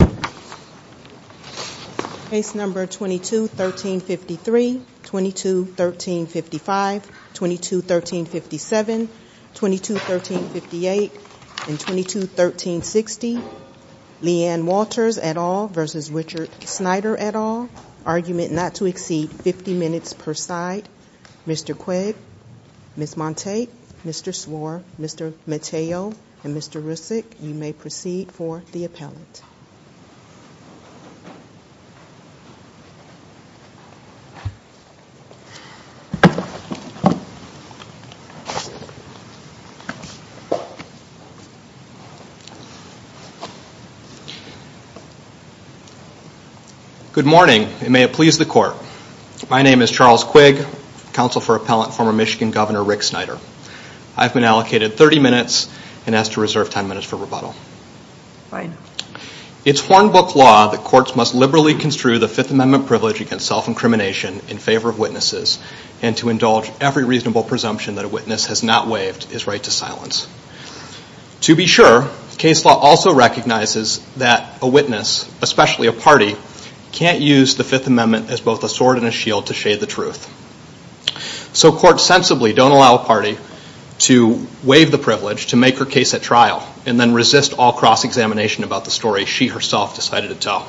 at all. Argument not to exceed 50 minutes per side. Mr. Quigg, Ms. Montague, Mr. Swarr, Mr. Matteo, and Mr. Rissick, you may proceed for the appellate. Good morning, and may it please the court. My name is Charles Quigg, counsel for appellate, former Michigan Governor Rick Snyder. I've been allocated 30 minutes and asked to reserve 10 minutes for rebuttal. It's foreign book law that courts must liberally construe the Fifth Amendment privilege against self-incrimination in favor of witnesses and to indulge every reasonable presumption that a witness has not waived his right to silence. To be sure, case law also recognizes that a witness, especially a party, can't use the Fifth Amendment as both a sword and a shield to shade the truth. So courts sensibly don't allow a party to waive the privilege, to make her case at trial, and then resist all cross-examination about the story she herself decided to tell.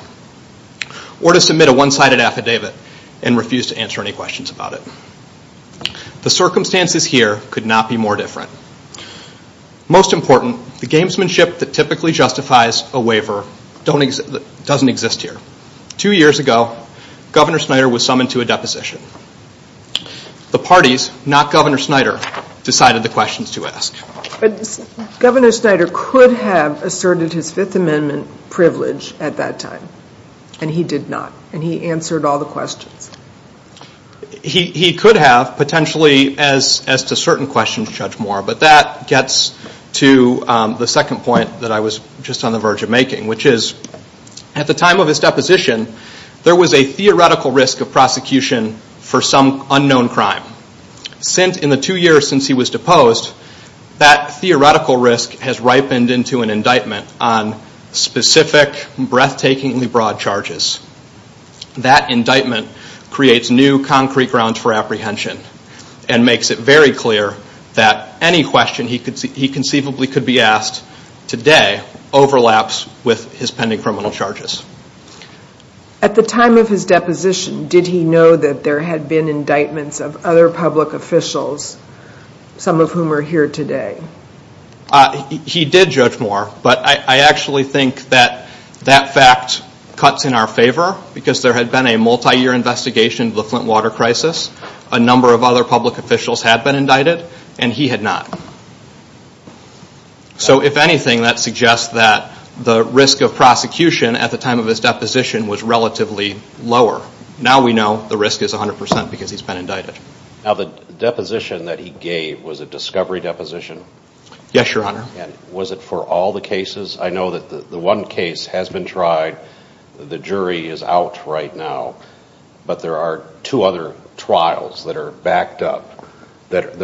Or to submit a one-sided affidavit and refuse to answer any questions about it. The circumstances here could not be more different. Most important, the gamesmanship that typically justifies a waiver doesn't exist here. Two years ago, Governor Snyder was summoned to a deposition. The parties, not Governor Snyder, decided the questions to ask. Governor Snyder could have asserted his Fifth Amendment privilege at that time, and he did not, and he answered all the questions. He could have, potentially, as to certain questions, Judge Moore, but that gets to the second point that I was just on the verge of making, which is, at the time of his deposition, there was a theoretical risk of prosecution for some unknown crime. In the two years since he was deposed, that theoretical risk has ripened into an indictment on specific, breathtakingly broad charges. That indictment creates new concrete grounds for apprehension, and makes it very clear that any question he conceivably could be asked today overlaps with his pending criminal charges. At the time of his deposition, did he know that there had been indictments of other public officials, some of whom are here today? He did, Judge Moore, but I actually think that that fact cuts in our favor, because there had been a multi-year investigation of the Flint water crisis, a number of other public officials had been indicted, and he had not. So, if anything, that suggests that the risk of prosecution at the time of his deposition was relatively lower. Now we know the risk is 100% because he's been indicted. Now, the deposition that he gave, was it a discovery deposition? Yes, Your Honor. Was it for all the cases? I know that the one case has been tried, the jury is out right now, but there are two other trials that are backed up, that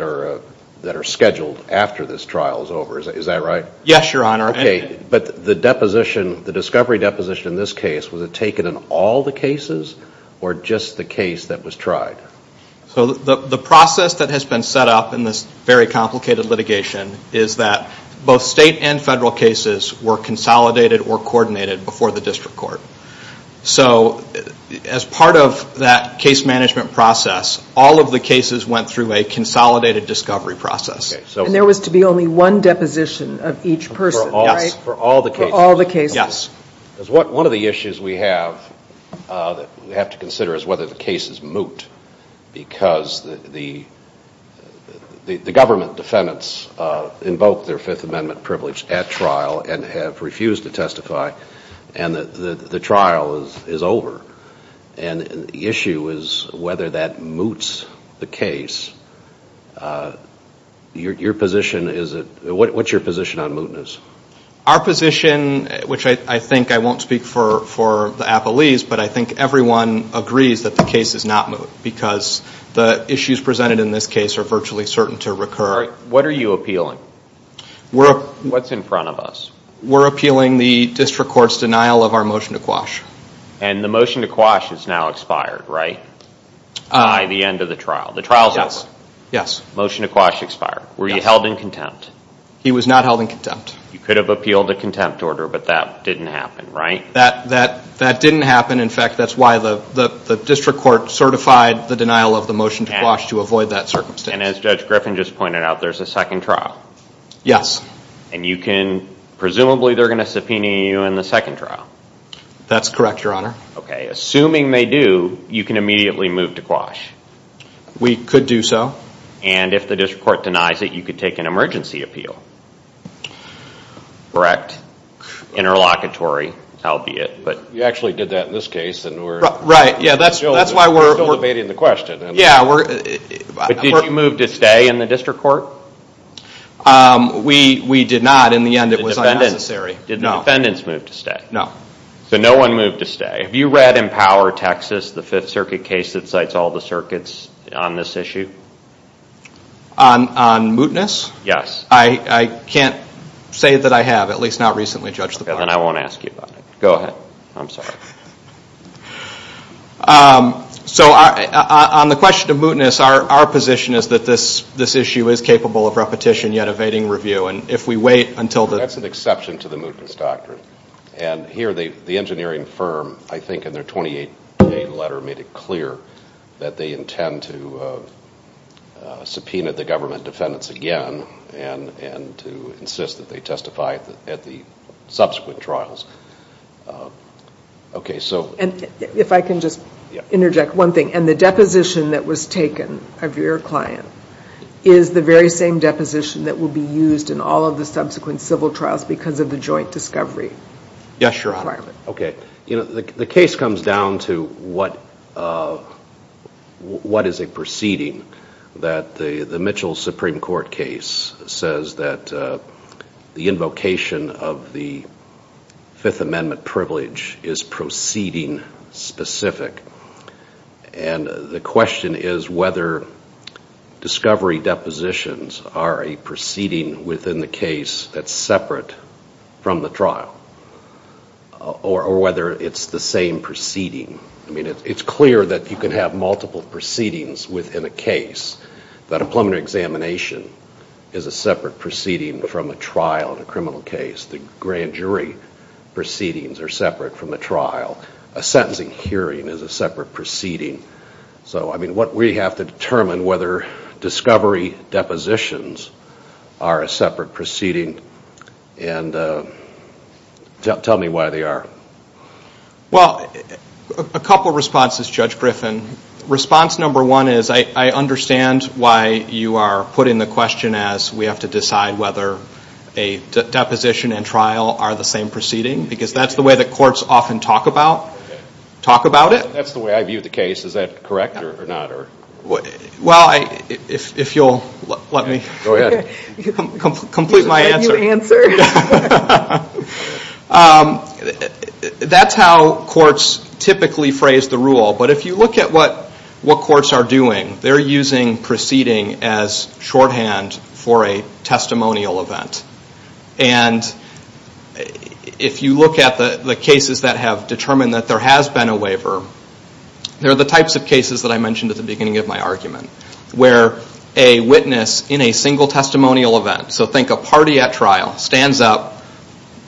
are scheduled after this trial is over, is that right? Yes, Your Honor. Okay, but the deposition, the discovery deposition in this case, was it taken in all the cases, or just the case that was tried? So, the process that has been set up in this very complicated litigation, is that both state and federal cases were consolidated or coordinated before the district court. So, as part of that case management process, all of the cases went through a consolidated discovery process. And there was to be only one deposition of each person, right? For all the cases. For all the cases. Yes. Because one of the issues we have to consider is whether the cases moot, because the government defendants invoked their Fifth Amendment privilege at trial and have refused to testify, and the trial is over. And the issue is whether that moots the case. What's your position on mootness? Our position, which I think, I won't speak for the appellees, but I think everyone agrees that the case is not moot, because the issues presented in this case are virtually certain to recur. What are you appealing? What's in front of us? We're appealing the district court's denial of our motion to quash. And the motion to quash is now expired, right? By the end of the trial. The trial's over. Yes. Motion to quash expired. Were you held in contempt? He was not held in contempt. You could have appealed a contempt order, but that didn't happen, right? That didn't happen. In fact, that's why the district court certified the denial of the motion to quash to avoid that circumstance. And as Judge Griffin just pointed out, there's a second trial. Yes. And you can, presumably they're going to subpoena you in the second trial. That's correct, Your Honor. Okay. Assuming they do, you can immediately move to quash. We could do so. And if the district court denies it, you could take an emergency appeal. Correct. Interlocutory, albeit. We actually did that in this case. Right. That's why we're still debating the question. Yeah. Did the court move to stay in the district court? We did not. In the end, it was unnecessary. Did the defendants move to stay? No. So no one moved to stay. Have you read Empower Texas, the Fifth Circuit case that cites all the circuits on this issue? On mootness? Yes. I can't say that I have, at least not recently, Judge. Then I won't ask you about it. Go ahead. I'm sorry. So on the question of mootness, our position is that this issue is capable of repetition yet evading review. That's an exception to the mootness doctrine. Here, the engineering firm, I think in their 28-page letter, made it clear that they intend to subpoena the government defendants again and to insist that they testify at the subsequent trials. If I can just interject one thing. The deposition that was taken of your client is the very same deposition that will be used in all of the subsequent civil trials because of the joint discovery requirement. Yes, Your Honor. Okay. The case comes down to what is a proceeding that the Mitchell Supreme Court case says that the invocation of the Fifth Amendment privilege is proceeding specific. The question is whether discovery depositions are a proceeding within the case that's separate from the trial or whether it's the same proceeding. I mean, it's clear that you can have multiple proceedings within a case, but a preliminary examination is a separate proceeding from a trial in a criminal case. The grand jury proceedings are separate from a trial. A sentencing hearing is a separate proceeding. So, I mean, what we have to determine whether discovery depositions are a separate proceeding and tell me why they are. Well, a couple of responses, Judge Griffin. Response number one is I understand why you are putting the question as we have to decide whether a deposition and trial are the same proceeding because that's the way the courts often talk about it. That's the way I view the case. Is that correct or not? Well, if you'll let me complete my answer. You can answer. That's how courts typically phrase the rule. But if you look at what courts are doing, they're using proceeding as shorthand for a testimonial event. And if you look at the cases that have determined that there has been a waiver, they're the types of cases that I mentioned at the beginning of my argument where a witness in a single testimonial event, so think a party at trial, stands up,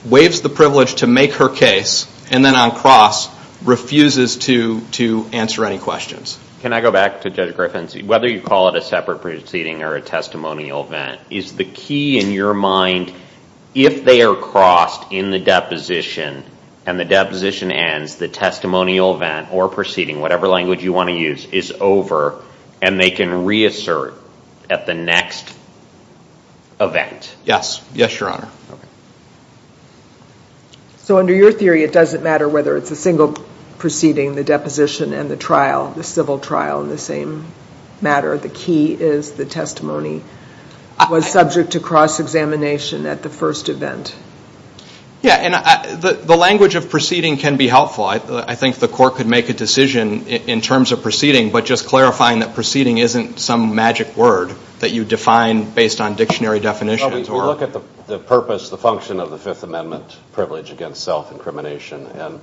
waives the privilege to make her case, and then on cross refuses to answer any questions. Can I go back to Judge Griffin and see whether you call it a separate proceeding or a testimonial event, is the key in your mind if they are crossed in the deposition and the deposition ends, the testimonial event or proceeding, whatever language you want to use, is over and they can reassert at the next event? Yes. Yes, Your Honor. So under your theory, it doesn't matter whether it's a single proceeding, the deposition, and the trial, the civil trial in the same matter. The key is the testimony was subject to cross-examination at the first event. Yeah, and the language of proceeding can be helpful. I think the court could make a decision in terms of proceeding, but just clarifying that proceeding isn't some magic word that you define based on dictionary definitions. If you look at the purpose, the function of the Fifth Amendment privilege against self-incrimination and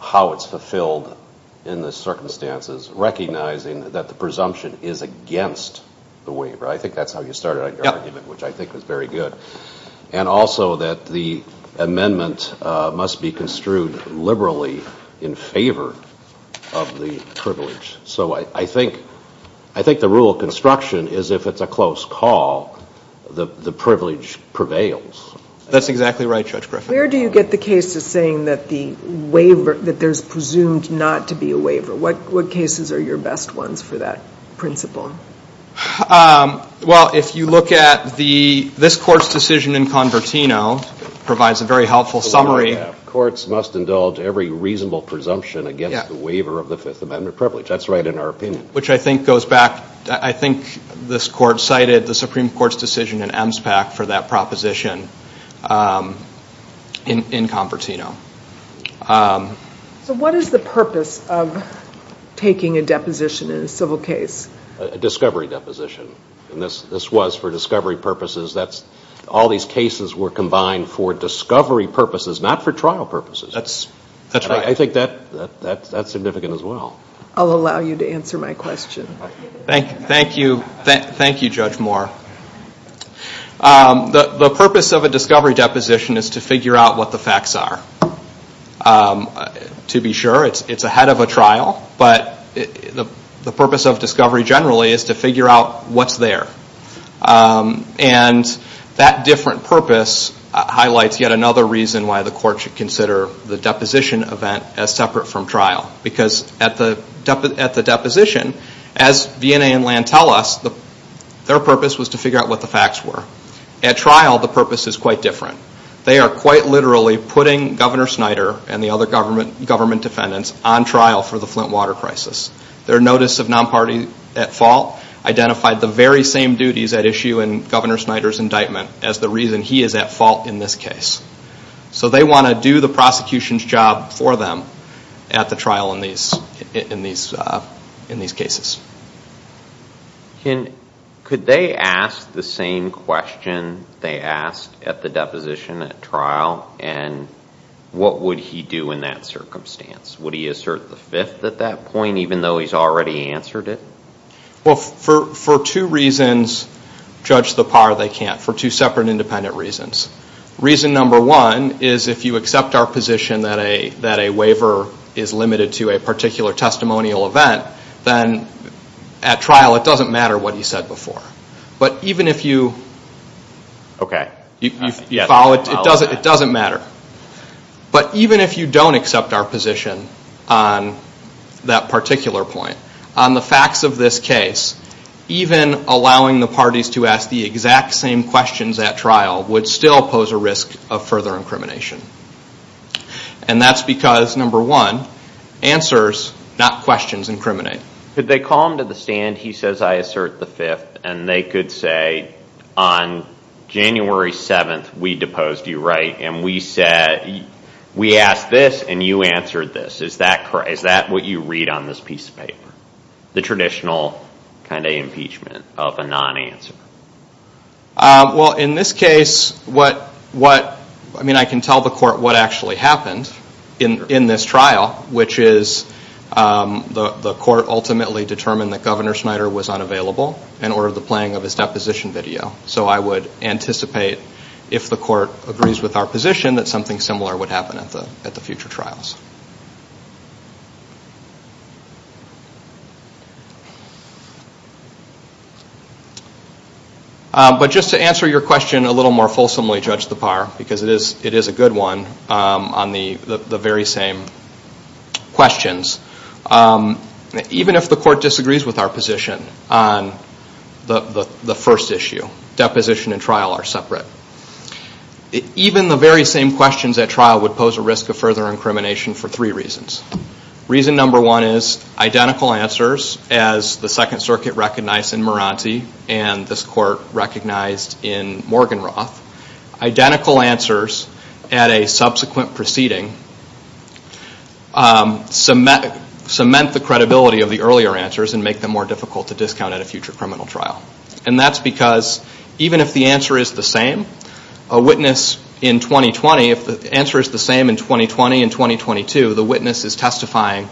how it's fulfilled in the circumstances, recognizing that the presumption is against the waiver, I think that's how you started out your argument, which I think was very good, and also that the amendment must be construed liberally in favor of the privilege. So I think the rule of construction is if it's a close call, the privilege prevails. That's exactly right, Judge Griffin. Where do you get the case of saying that there's presumed not to be a waiver? What cases are your best ones for that principle? Well, if you look at this court's decision in Convertino, it provides a very helpful summary. Courts must indulge every reasonable presumption against the waiver of the Fifth Amendment privilege. That's right in our opinion. Which I think goes back. I think this court cited the Supreme Court's decision in EMSPAC for that proposition in Convertino. So what is the purpose of taking a deposition in a civil case? A discovery deposition, and this was for discovery purposes. All these cases were combined for discovery purposes, not for trial purposes. That's right. I think that's significant as well. I'll allow you to answer my question. Thank you, Judge Moore. The purpose of a discovery deposition is to figure out what the facts are. To be sure, it's ahead of a trial, but the purpose of discovery generally is to figure out what's there. And that different purpose highlights yet another reason why the court should consider the deposition event as separate from trial. Because at the deposition, as DNA and Land tell us, their purpose was to figure out what the facts were. At trial, the purpose is quite different. They are quite literally putting Governor Snyder and the other government defendants on trial for the Flint water crisis. Their notice of non-party at fault identified the very same duties at issue in Governor Snyder's indictment as the reason he is at fault in this case. So they want to do the prosecution's job for them at the trial in these cases. Could they ask the same question they asked at the deposition at trial? And what would he do in that circumstance? Would he assert the fifth at that point, even though he's already answered it? Well, for two reasons, Judge Lepar, they can't. For two separate independent reasons. Reason number one is if you accept our position that a waiver is limited to a particular testimonial event, then at trial it doesn't matter what he said before. But even if you follow it, it doesn't matter. But even if you don't accept our position on that particular point, on the facts of this case, even allowing the parties to ask the exact same questions at trial would still pose a risk of further incrimination. And that's because, number one, answers, not questions, incriminate. Could they call him to the stand, he says, I assert the fifth, and they could say, on January 7th we deposed you, right? And we asked this and you answered this. Is that what you read on this piece of paper? The traditional kind of impeachment of a non-answer. Well, in this case, I mean, I can tell the court what actually happened in this trial, which is the court ultimately determined that Governor Snyder was unavailable and ordered the playing of his deposition video. So I would anticipate, if the court agrees with our position, that something similar would happen at the future trials. But just to answer your question a little more fulsomely, Judge Tappar, because it is a good one on the very same questions, even if the court disagrees with our position on the first issue, deposition and trial are separate, even the very same questions at trial would pose a risk of further incrimination for three reasons. Reason number one is identical answers as the Second Circuit recognized in Morante and this court recognized in Morgan Roth. Identical answers at a subsequent proceeding cement the credibility of the earlier answers and make them more difficult to discount at a future criminal trial. And that's because even if the answer is the same, a witness in 2020, if the answer is the same in 2020 and 2022, the witness is testifying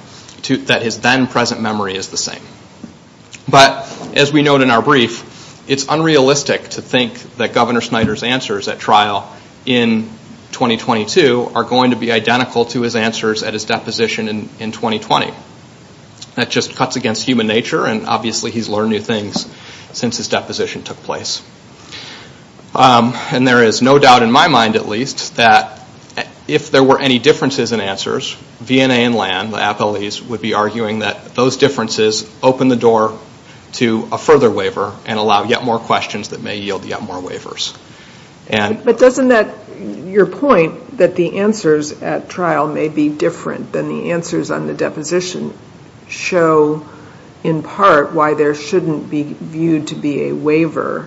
that his then present memory is the same. But as we know in our brief, it's unrealistic to think that Governor Snyder's answers at trial in 2022 are going to be identical to his answers at his deposition in 2020. That just cuts against human nature and obviously he's learned new things since his deposition took place. And there is no doubt in my mind, at least, that if there were any differences in answers, V&A and LAM, the athletes, would be arguing that those differences open the door to a further waiver and allow yet more questions that may yield yet more waivers. But doesn't that, your point that the answers at trial may be different than the answers on the deposition show in part why there shouldn't be viewed to be a waiver,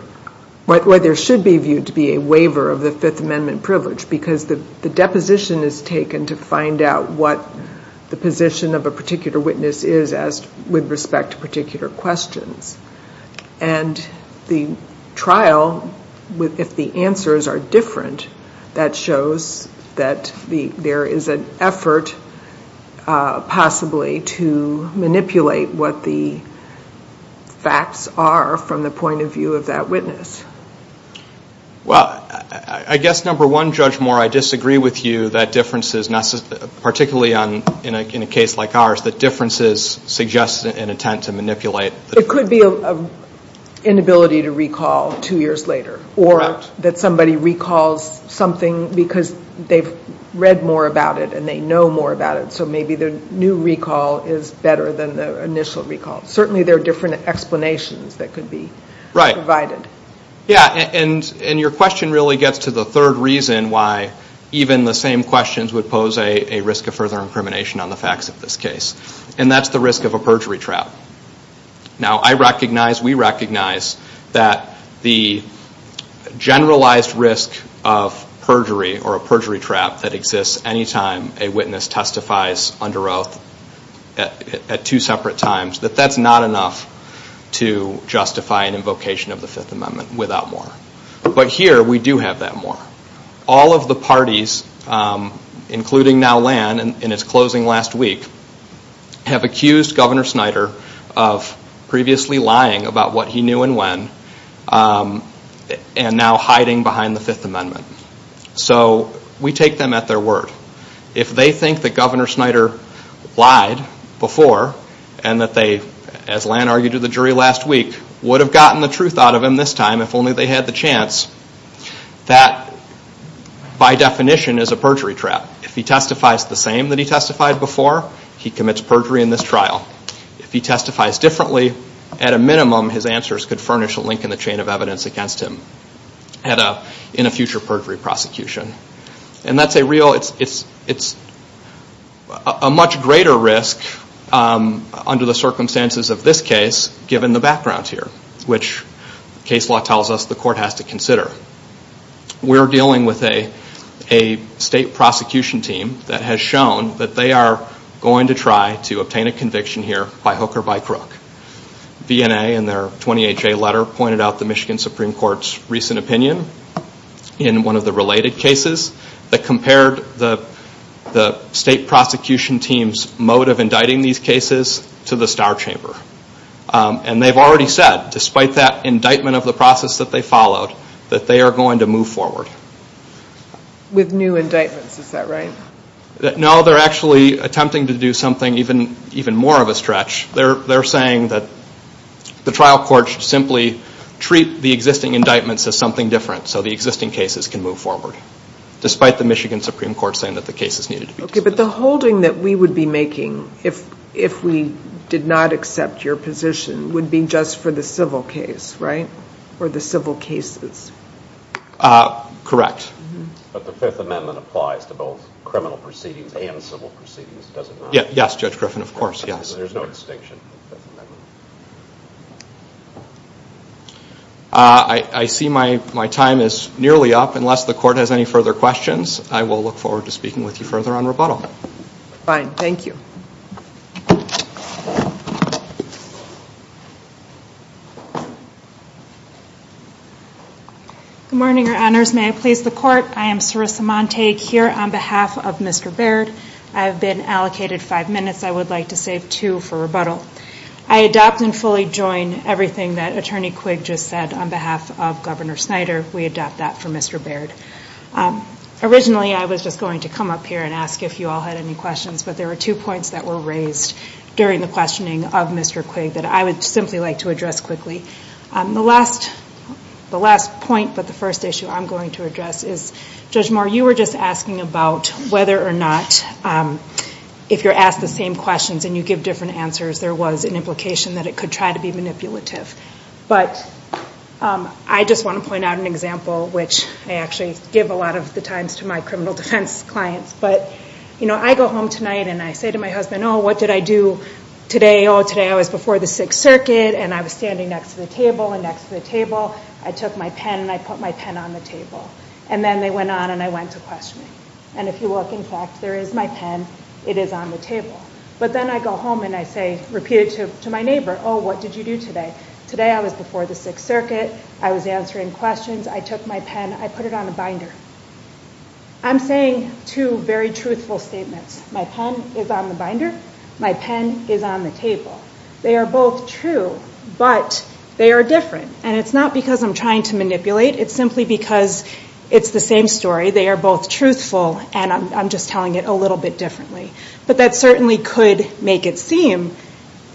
why there should be viewed to be a waiver of the Fifth Amendment privilege because the deposition is taken to find out what the position of a particular witness is with respect to a particular question. And the trial, if the answers are different, that shows that there is an effort possibly to manipulate what the facts are from the point of view of that witness. Well, I guess, number one, Judge Moore, I disagree with you that differences, particularly in a case like ours, that differences suggest an attempt to manipulate. It could be an inability to recall two years later or that somebody recalls something because they've read more about it and they know more about it, so maybe the new recall is better than the initial recall. Certainly there are different explanations that could be provided. Right. Yeah, and your question really gets to the third reason why even the same questions would pose a risk of further incrimination on the facts of this case, and that's the risk of a perjury trap. Now, I recognize, we recognize that the generalized risk of perjury or a perjury trap that exists any time a witness testifies under oath at two separate times, that that's not enough to justify an invocation of the Fifth Amendment without more. But here we do have that more. All of the parties, including now Lan, in its closing last week, have accused Governor Snyder of previously lying about what he knew and when and now hiding behind the Fifth Amendment. So we take them at their word. If they think that Governor Snyder lied before and that they, as Lan argued to the jury last week, would have gotten the truth out of him this time if only they had the chance, that by definition is a perjury trap. If he testifies the same that he testified before, he commits perjury in this trial. If he testifies differently, at a minimum, his answers could furnish a link in the chain of evidence against him in a future perjury prosecution. And that's a real, it's a much greater risk under the circumstances of this case, given the background here, which case law tells us the court has to consider. We're dealing with a state prosecution team that has shown that they are going to try to obtain a conviction here by hook or by crook. DNA, in their 28-J letter, pointed out the Michigan Supreme Court's recent opinion in one of the related cases that compared the state prosecution team's mode of indicting these cases to the Star Chamber. And they've already said, despite that indictment of the process that they followed, that they are going to move forward. With new indictments, is that right? No, they're actually attempting to do something even more of a stretch. They're saying that the trial court should simply treat the existing indictments as something different so the existing cases can move forward, despite the Michigan Supreme Court saying that the cases needed to be moved forward. Okay, but the holding that we would be making if we did not accept your position would be just for the civil case, right? For the civil cases. Correct. But the Fifth Amendment applies to both criminal proceedings and civil proceedings, doesn't it? Yes, Judge Griffin, of course, yes. There's no distinction. I see my time is nearly up. Unless the Court has any further questions, I will look forward to speaking with you further on rebuttal. Fine, thank you. Good morning, Your Honors. May it please the Court, I am Sarissa Montague here on behalf of Mr. Baird. I've been allocated five minutes. I would like to save two for rebuttal. I adopt and fully join everything that Attorney Quigg just said on behalf of Governor Snyder. We adopt that for Mr. Baird. Originally, I was just going to come up here and ask if you all had any questions, but there were two points that were raised during the questioning of Mr. Quigg that I would simply like to address quickly. The last point, but the first issue I'm going to address is, Judge Moore, when you were just asking about whether or not, if you're asked the same questions and you give different answers, there was an implication that it could try to be manipulative. But I just want to point out an example, which I actually give a lot of the time to my criminal defense clients. But, you know, I go home tonight and I say to my husband, oh, what did I do today? Oh, today I was before the Sixth Circuit and I was standing next to the table and next to the table. I took my pen and I put my pen on the table. And then they went on and I went to questioning. And if you look in text, there is my pen, it is on the table. But then I go home and I say repeatedly to my neighbor, oh, what did you do today? Today I was before the Sixth Circuit, I was answering questions, I took my pen, I put it on the binder. I'm saying two very truthful statements. My pen is on the binder. My pen is on the table. They are both true, but they are different. And it's not because I'm trying to manipulate. It's simply because it's the same story. They are both truthful and I'm just telling it a little bit differently. But that certainly could make it seem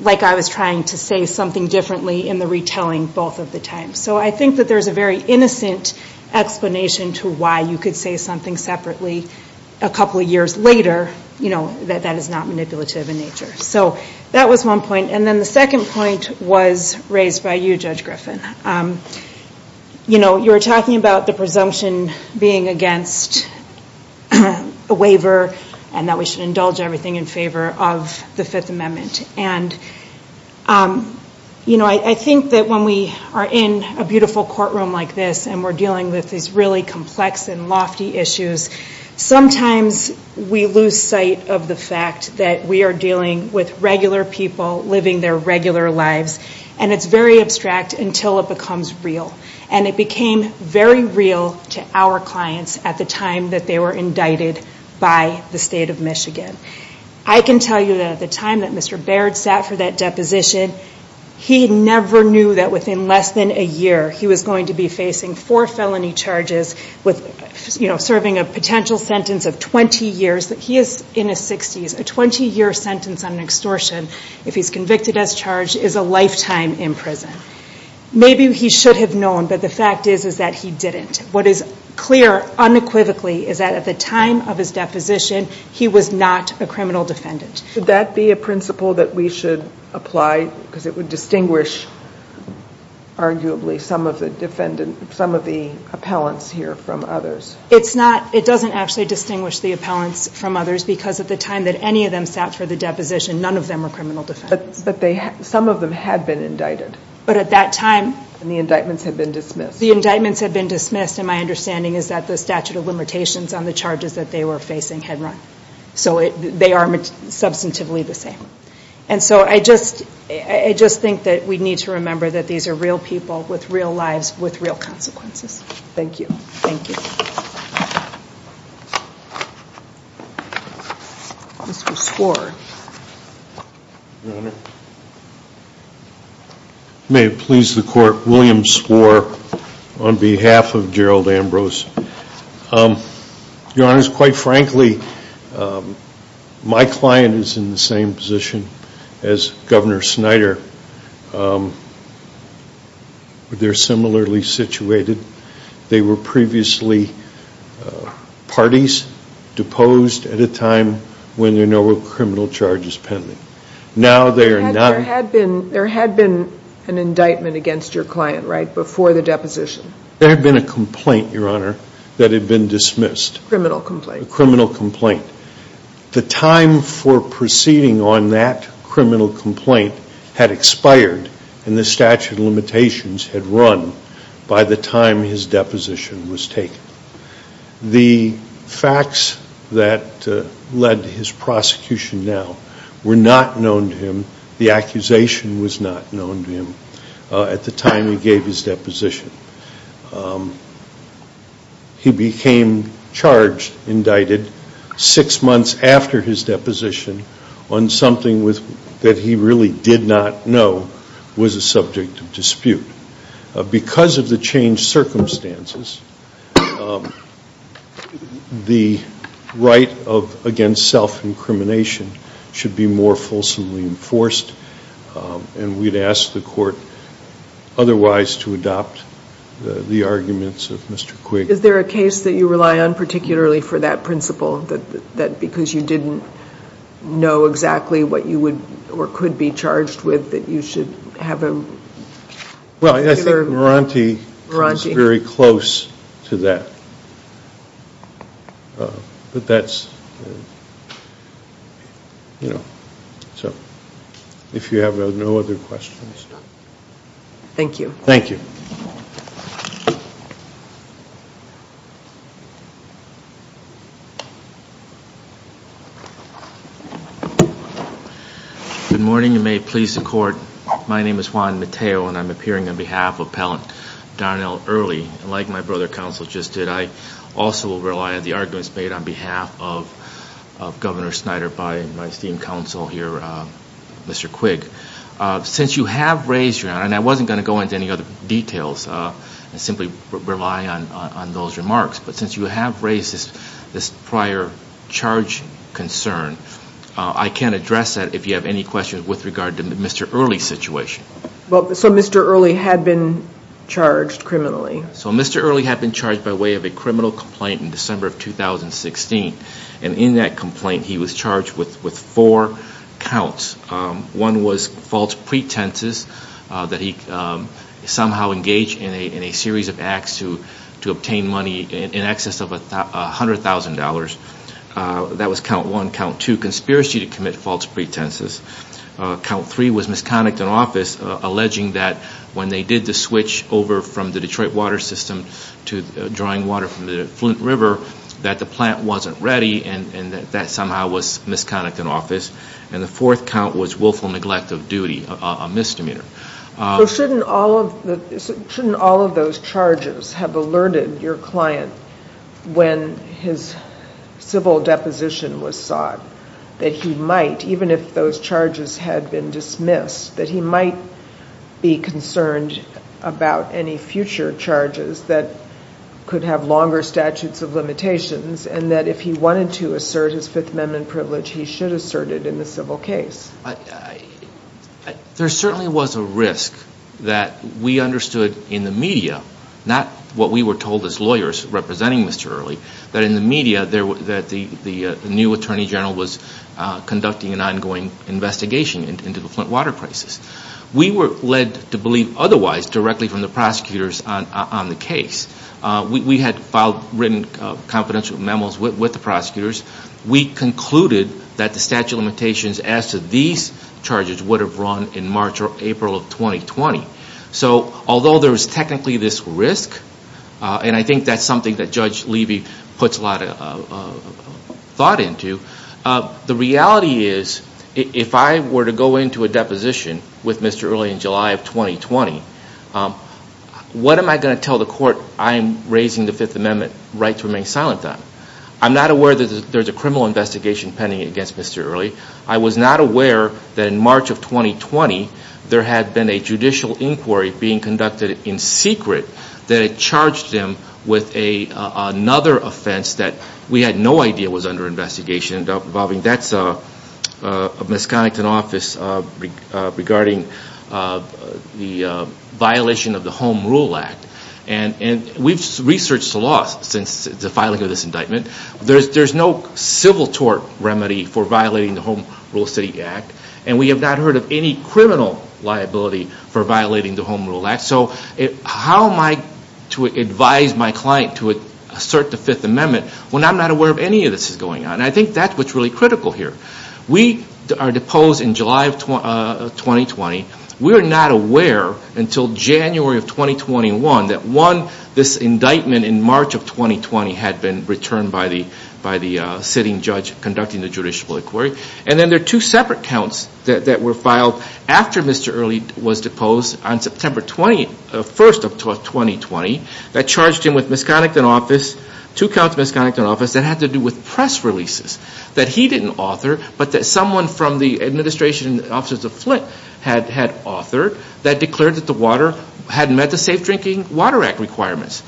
like I was trying to say something differently in the retelling both of the times. So I think that there's a very innocent explanation to why you could say something separately a couple of years later, you know, that that is not manipulative in nature. So that was one point. And then the second point was raised by you, Judge Griffin. You know, you were talking about the presumption being against a waiver and that we should indulge everything in favor of the Fifth Amendment. And, you know, I think that when we are in a beautiful courtroom like this and we're dealing with these really complex and lofty issues, sometimes we lose sight of the fact that we are dealing with regular people living their regular lives. And it's very abstract until it becomes real. And it became very real to our clients at the time that they were indicted by the state of Michigan. I can tell you that at the time that Mr. Baird sat for that deposition, he never knew that within less than a year he was going to be facing four felony charges with, you know, serving a potential sentence of 20 years. He is in his 60s. A 20-year sentence on extortion, if he's convicted as charged, is a lifetime in prison. Maybe he should have known, but the fact is that he didn't. What is clear unequivocally is that at the time of his deposition, he was not a criminal defendant. Could that be a principle that we should apply? Because it would distinguish, arguably, some of the defendants, some of the appellants here from others. It's not. It doesn't actually distinguish the appellants from others because at the time that any of them sat for the deposition, none of them were criminal defendants. But some of them had been indicted. But at that time... And the indictments had been dismissed. The indictments had been dismissed, and my understanding is that the statute of limitations on the charges that they were facing had run. So they are substantively the same. And so I just think that we need to remember that these are real people with real lives, with real consequences. Thank you. Thank you. Mr. Swor. May it please the Court, William Swor on behalf of Gerald Ambrose. Your Honor, quite frankly, my client is in the same position as Governor Snyder. They're similarly situated. They were previously parties deposed at a time when there were no criminal charges pending. Now they are not. There had been an indictment against your client, right, before the deposition. There had been a complaint, Your Honor, that had been dismissed. A criminal complaint. A criminal complaint. The time for proceeding on that criminal complaint had expired, and the statute of limitations had run by the time his deposition was taken. The facts that led to his prosecution now were not known to him. The accusation was not known to him at the time he gave his deposition. He became charged, indicted, six months after his deposition on something that he really did not know was a subject of dispute. Because of the changed circumstances, the right against self-incrimination should be more fulsomely enforced, and we'd ask the court otherwise to adopt the arguments of Mr. Quigg. Is there a case that you rely on particularly for that principle, because you didn't know exactly what you would or could be charged with, that you should have a particular... Well, I think Morante was very close to that. But that's... If you have no other questions... Thank you. Thank you. Good morning to May Police Court. My name is Juan Mateo, and I'm appearing on behalf of Appellant Donnell Early. Like my brother Counsel just did, I also rely on the arguments made on behalf of Governor Snyder by Vice Dean Counsel here, Mr. Quigg. Since you have raised your hand, and I wasn't going to go into any other details, and simply rely on those remarks, but since you have raised this prior charge concern, I can address that if you have any questions with regard to Mr. Early's situation. So Mr. Early had been charged criminally? So Mr. Early had been charged by way of a criminal complaint in December of 2016, and in that complaint he was charged with four counts. One was false pretenses, that he somehow engaged in a series of acts to obtain money in excess of $100,000. That was count one. Count two, conspiracy to commit false pretenses. Count three was misconduct in office, alleging that when they did the switch over from the Detroit water system to drawing water from the Flint River, that the plant wasn't ready, and that somehow was misconduct in office. And the fourth count was willful neglect of duty, a misdemeanor. Shouldn't all of those charges have alerted your client when his civil deposition was sought? That he might, even if those charges had been dismissed, that he might be concerned about any future charges that could have longer statutes of limitations, and that if he wanted to assert his Fifth Amendment privilege, he should assert it in the civil case. There certainly was a risk that we understood in the media, not what we were told as lawyers representing Mr. Early, but in the media that the new Attorney General was conducting an ongoing investigation into the Flint water crisis. We were led to believe otherwise directly from the prosecutors on the case. We had written confidential memos with the prosecutors. We concluded that the statute of limitations as to these charges would have run in March or April of 2020. So although there was technically this risk, and I think that's something that Judge Levy puts a lot of thought into, the reality is if I were to go into a deposition with Mr. Early in July of 2020, what am I going to tell the court I'm raising the Fifth Amendment rights to remain silent on? I'm not aware that there's a criminal investigation pending against Mr. Early. I was not aware that in March of 2020, there had been a judicial inquiry being conducted in secret that had charged him with another offense that we had no idea was under investigation. That's a misconduct in office regarding the violation of the Home Rule Act. We've researched the law since the filing of this indictment. There's no civil tort remedy for violating the Home Rule City Act, and we have not heard of any criminal liability for violating the Home Rule Act. So how am I to advise my client to assert the Fifth Amendment when I'm not aware of any of this going on? I think that's what's really critical here. We are deposed in July of 2020. We're not aware until January of 2021 that, one, this indictment in March of 2020 had been returned by the sitting judge conducting the judicial inquiry, and then there are two separate counts that were filed after Mr. Early was deposed. On September 1st of 2020, that charged him with misconduct in office, two counts of misconduct in office that had to do with press releases that he didn't author, but that someone from the administration offices of Flint had authored that declared that the water hadn't met the Safe Drinking Water Act requirements.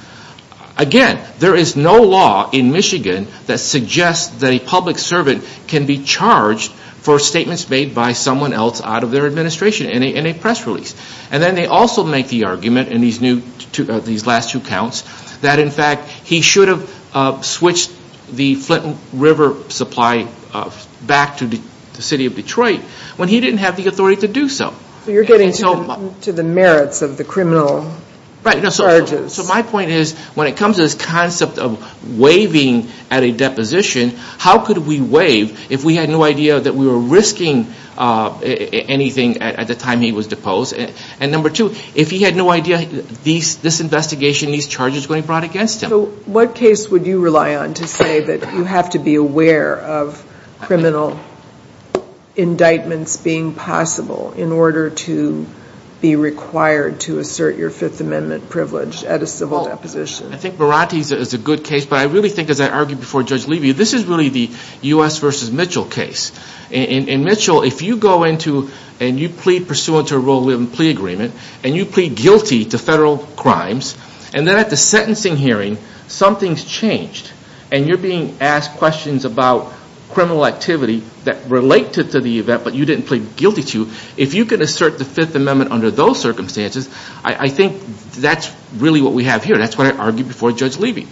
Again, there is no law in Michigan that suggests that a public servant can be charged for statements made by someone else out of their administration in a press release. And then they also make the argument in these last two counts that, in fact, he should have switched the Flint River supply back to the city of Detroit when he didn't have the authority to do so. You're getting to the merits of the criminal charges. Right. So my point is when it comes to this concept of waiving at a deposition, how could we waive if we had no idea that we were risking anything at the time he was deposed? And number two, if he had no idea this investigation, these charges were being brought against him. So what case would you rely on to say that you have to be aware of criminal indictments being possible in order to be required to assert your Fifth Amendment privilege at a civil deposition? I think Verratti is a good case, but I really think, as I argued before Judge Levy, this is really the U.S. v. Mitchell case. In Mitchell, if you go into and you plead pursuant to a rule of limited plea agreement and you plead guilty to federal crimes, and then at the sentencing hearing something's changed and you're being asked questions about criminal activity that related to the event but you didn't plead guilty to, if you can assert the Fifth Amendment under those circumstances, I think that's really what we have here. That's what I argued before Judge Levy.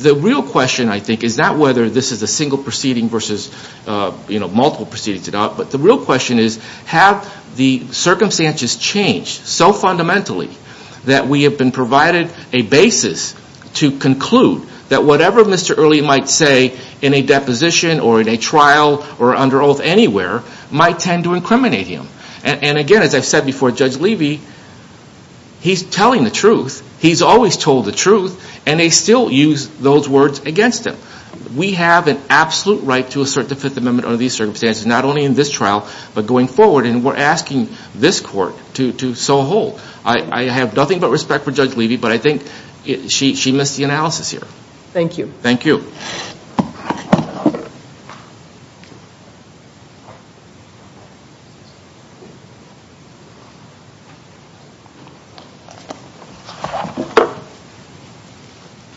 The real question, I think, is not whether this is a single proceeding versus multiple proceedings, but the real question is have the circumstances changed so fundamentally that we have been provided a basis to conclude that whatever Mr. Early might say in a deposition or in a trial or under oath anywhere might tend to incriminate him. And again, as I said before, Judge Levy, he's telling the truth. He's always told the truth, and they still use those words against him. We have an absolute right to assert the Fifth Amendment under these circumstances, not only in this trial, but going forward, and we're asking this court to so hold. I have nothing but respect for Judge Levy, but I think she missed the analysis here. Thank you. Thank you.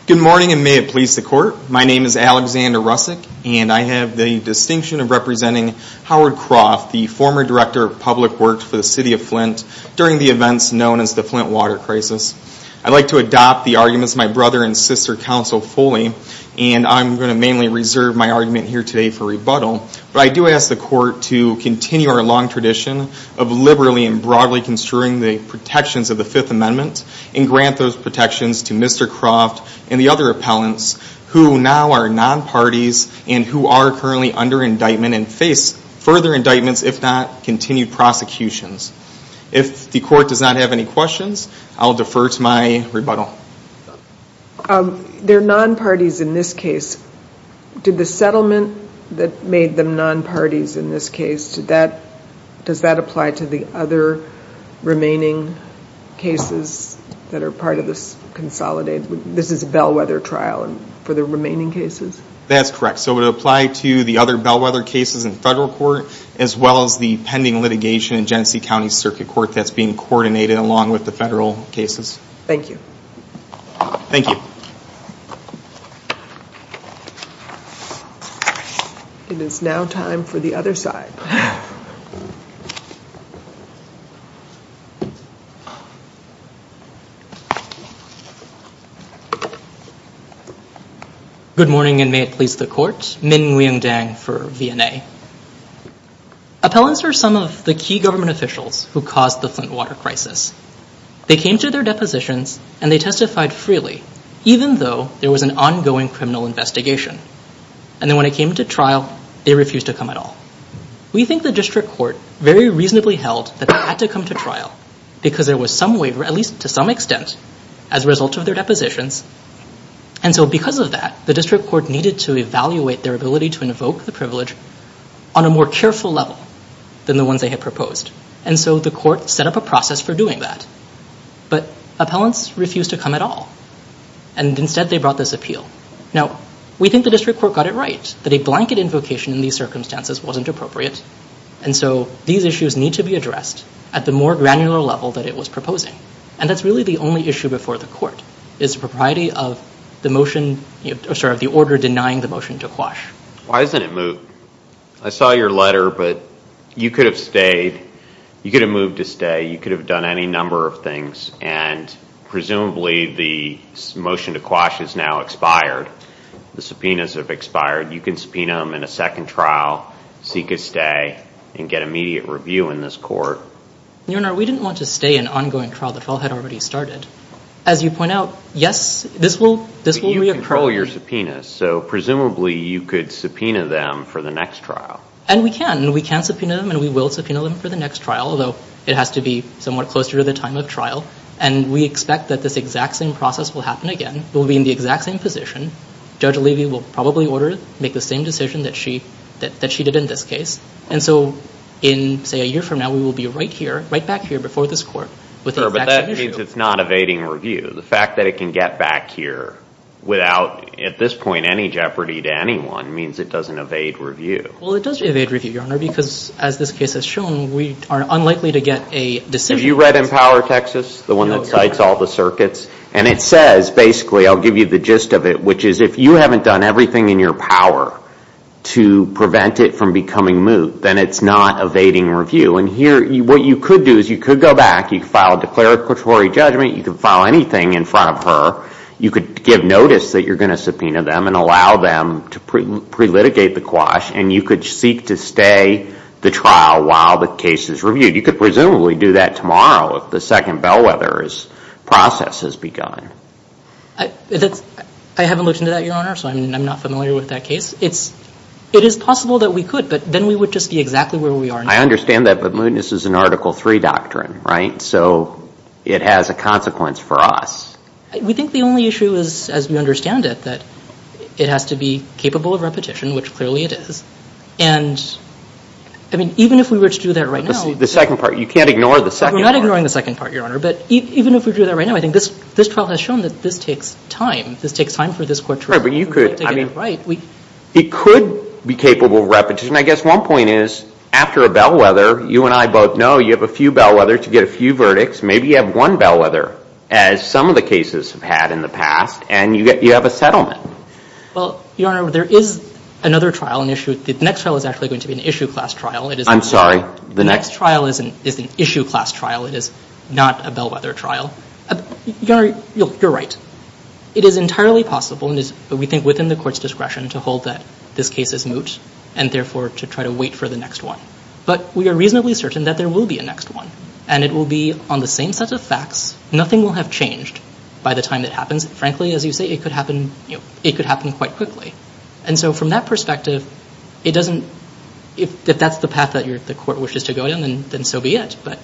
Good morning, and may it please the court. My name is Alexander Rusick, and I have the distinction of representing Howard Croft, the former Director of Public Works for the City of Flint, during the events known as the Flint Water Crisis. I'd like to adopt the arguments of my brother and sister counsel fully, and I'm going to mainly reserve my argument here today for rebuttal, but I do ask the court to continue our long tradition of liberally and broadly construing the protections of the Fifth Amendment and grant those protections to Mr. Croft and the other appellants who now are non-parties and who are currently under indictment and face further indictments, if not continued prosecutions. If the court does not have any questions, I'll defer to my rebuttal. They're non-parties in this case. Did the settlement that made them non-parties in this case, does that apply to the other remaining cases that are part of this consolidation? This is a bellwether trial for the remaining cases? That's correct. So it would apply to the other bellwether cases in federal court as well as the pending litigation in Genesee County Circuit Court that's being coordinated along with the federal cases. Thank you. Thank you. Thank you. It is now time for the other side. Good morning and may it please the court. Minh Nguyen Dang for VMA. Appellants are some of the key government officials who caused the Flint water crisis. They came to their depositions and they testified freely even though there was an ongoing criminal investigation. And then when it came to trial, they refused to come at all. We think the district court very reasonably held that they had to come to trial because there was some waiver, at least to some extent, as a result of their depositions. And so because of that, the district court needed to evaluate their ability to invoke the privilege on a more careful level than the ones they had proposed. And so the court set up a process for doing that. But appellants refused to come at all. And instead they brought this appeal. Now, we think the district court got it right that a blanket invocation in these circumstances wasn't appropriate. And so these issues need to be addressed at the more granular level that it was proposing. And that's really the only issue before the court, is the propriety of the order denying the motion to quash. Why isn't it moved? I saw your letter, but you could have stayed. You could have moved to stay. You could have done any number of things. And presumably the motion to quash has now expired. The subpoenas have expired. You can subpoena them in a second trial, seek a stay, and get immediate review in this court. Your Honor, we didn't want to stay an ongoing trial. The trial had already started. As you point out, yes, this will reappear. You can control your subpoenas. So presumably you could subpoena them for the next trial. And we can. We can subpoena them, and we will subpoena them for the next trial, although it has to be somewhat closer to the time of trial. And we expect that this exact same process will happen again. We'll be in the exact same position. Judge Levy will probably order to make the same decision that she did in this case. And so in, say, a year from now, we will be right here, right back here before this court. But that means it's not evading review. The fact that it can get back here without, at this point, any jeopardy to anyone, means it doesn't evade review. And we are unlikely to get a decision. Have you read Empower Texas, the one that cites all the circuits? And it says, basically, I'll give you the gist of it, which is if you haven't done everything in your power to prevent it from becoming moot, then it's not evading review. And here, what you could do is you could go back. You could file a declaratory judgment. You could file anything in front of her. You could give notice that you're going to subpoena them and allow them to pre-litigate the quash. And you could seek to stay the trial while the case is reviewed. You could presumably do that tomorrow if the second bellwether process has begun. I haven't looked into that, Your Honor, so I'm not familiar with that case. It is possible that we could, but then we would just be exactly where we are now. I understand that, but mootness is an Article III doctrine, right? So it has a consequence for us. We think the only issue is, as we understand it, is that it has to be capable of repetition, which clearly it is. And, I mean, even if we were to do that right now. But this is the second part. You can't ignore the second part. We're not ignoring the second part, Your Honor. But even if we do that right now, I think this trial has shown that this takes time. This takes time for this court to review. It could be capable of repetition. I guess one point is, after a bellwether, you and I both know you have a few bellwethers. You get a few verdicts. Maybe you have one bellwether, as some of the cases have had in the past, and you have a settlement. Well, Your Honor, there is another trial. The next trial is actually going to be an issue class trial. I'm sorry. The next trial is an issue class trial. It is not a bellwether trial. Your Honor, you're right. It is entirely possible, and we think within the court's discretion, to hold that this case is moot, and therefore to try to wait for the next one. But we are reasonably certain that there will be a next one, and it will be on the same set of facts. Nothing will have changed by the time it happens. Frankly, as you say, it could happen quite quickly. And so from that perspective, if that's the path that the court wishes to go in, then so be it. But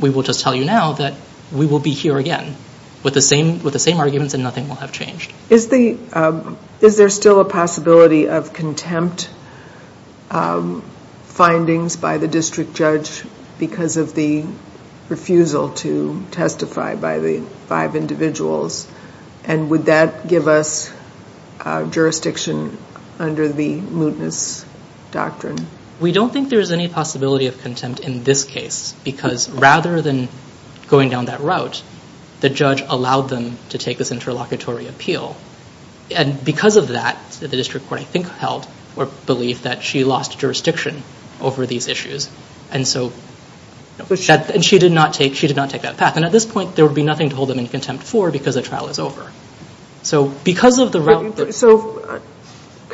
we will just tell you now that we will be here again with the same arguments and nothing will have changed. Is there still a possibility of contempt findings by the district judge because of the refusal to testify by the five individuals? And would that give us jurisdiction under the mootness doctrine? We don't think there is any possibility of contempt in this case because rather than going down that route, the judge allowed them to take this interlocutory appeal. So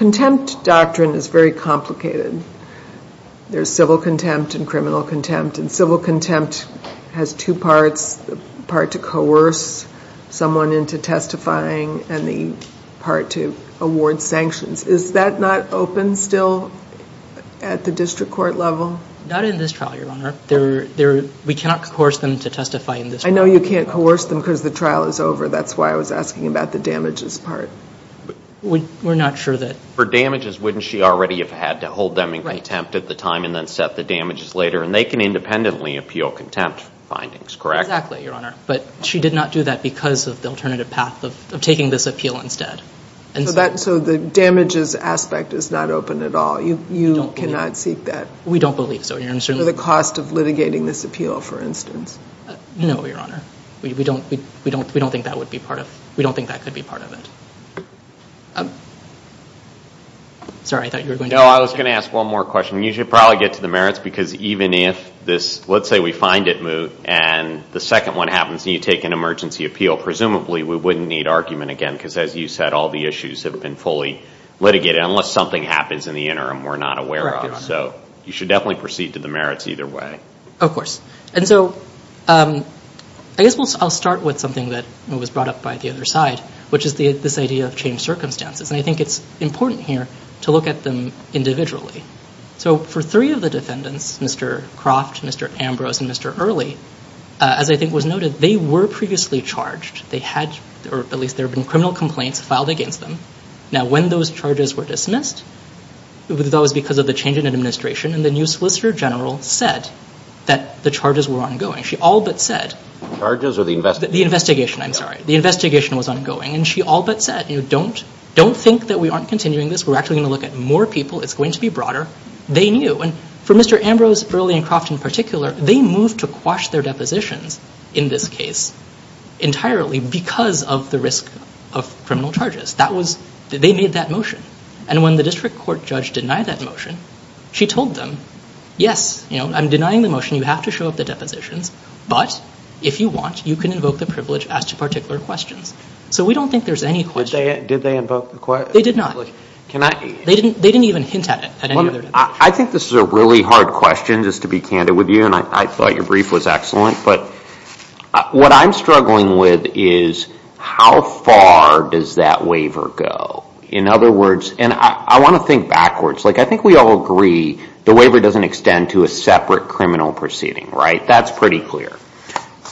contempt doctrine is very complicated. There's civil contempt and criminal contempt, and civil contempt has two parts, the part to coerce someone into testifying and the part to award sanctions. Is that not open still at the district court level? Not in this trial, Your Honor. We cannot coerce them to testify in this trial. I know you can't coerce them because the trial is over. That's why I was asking about the damages part. We're not sure that. For damages, wouldn't she already have had to hold them in contempt at the time and then set the damages later? And they can independently appeal contempt findings, correct? Exactly, Your Honor. But she did not do that because of the alternative path of taking this appeal instead. So the damages aspect is not open at all? You cannot seek that? We don't believe so, Your Honor. For the cost of litigating this appeal, for instance? No, Your Honor. We don't think that could be part of it. I was going to ask one more question. You should probably get to the merits because even if this, let's say we find it moved and the second one happens and you take an emergency appeal, presumably we wouldn't need argument again because, as you said, all the issues have been fully litigated. Unless something happens in the interim, we're not aware of it. So you should definitely proceed to the merits either way. Of course. And so I guess I'll start with something that was brought up by the other side, which is this idea of changed circumstances. And I think it's important here to look at them individually. So for three of the defendants, Mr. Cross, Mr. Ambrose, and Mr. Early, as I think was noted, they were previously charged. They had, or at least there had been criminal complaints filed against them. Now, when those charges were dismissed, it was because of the change in administration and the new Solicitor General said that the charges were ongoing. She all but said… Charges or the investigation? The investigation, I'm sorry. The investigation was ongoing and she all but said, you know, don't think that we aren't continuing this. We're actually going to look at more people. It's going to be broader. They knew. And for Mr. Ambrose, Early, and Cross in particular, they moved to quash their depositions in this case entirely because of the risk of criminal charges. They made that motion. And when the district court judge denied that motion, she told them, yes, I'm denying the motion. You have to show up at the deposition. But if you want, you can invoke the privilege as to particular questions. So we don't think there's any question. Did they invoke the privilege? They did not. They didn't even hint at it. I think this is a really hard question, just to be candid with you, and I thought your brief was excellent. But what I'm struggling with is how far does that waiver go? In other words, and I want to think backwards. Like I think we all agree the waiver doesn't extend to a separate criminal proceeding, right? That's pretty clear.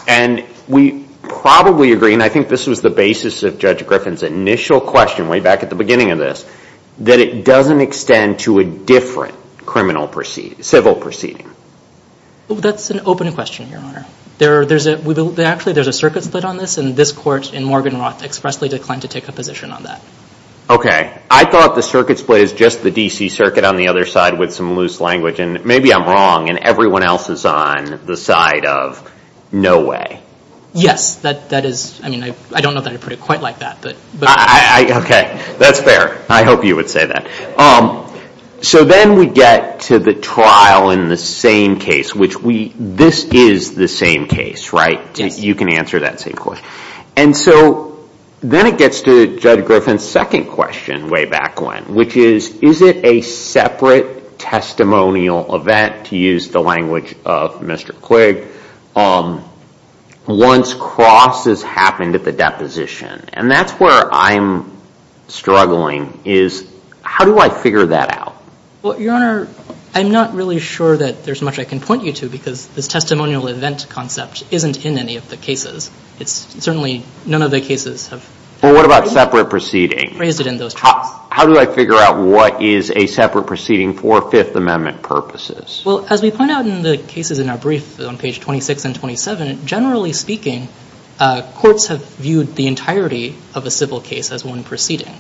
And we probably agree, and I think this was the basis of Judge Griffin's initial question way back at the beginning of this, that it doesn't extend to a different civil proceeding. That's an open question, Your Honor. Actually, there's a circuit split on this, and this court in Morgan Roth expressly declined to take a position on that. Okay. I thought the circuit split is just the D.C. circuit on the other side with some loose language. And maybe I'm wrong, and everyone else is on the side of no way. Yes. I mean, I don't know that I put it quite like that. Okay. That's fair. I hope you would say that. So then we get to the trial in the same case, which this is the same case, right? You can answer that same question. And so then it gets to Judge Griffin's second question way back when, which is, is it a separate testimonial event, to use the language of Mr. Kligg, once cross has happened at the deposition? And that's where I'm struggling, is how do I figure that out? Well, Your Honor, I'm not really sure that there's much I can point you to because this testimonial event concept isn't in any of the cases. It's certainly none of the cases have raised it in those trials. Well, what about separate proceedings? How do I figure out what is a separate proceeding for Fifth Amendment purposes? Well, as we point out in the cases in our brief on page 26 and 27, generally speaking, courts have viewed the entirety of a civil case as one proceeding.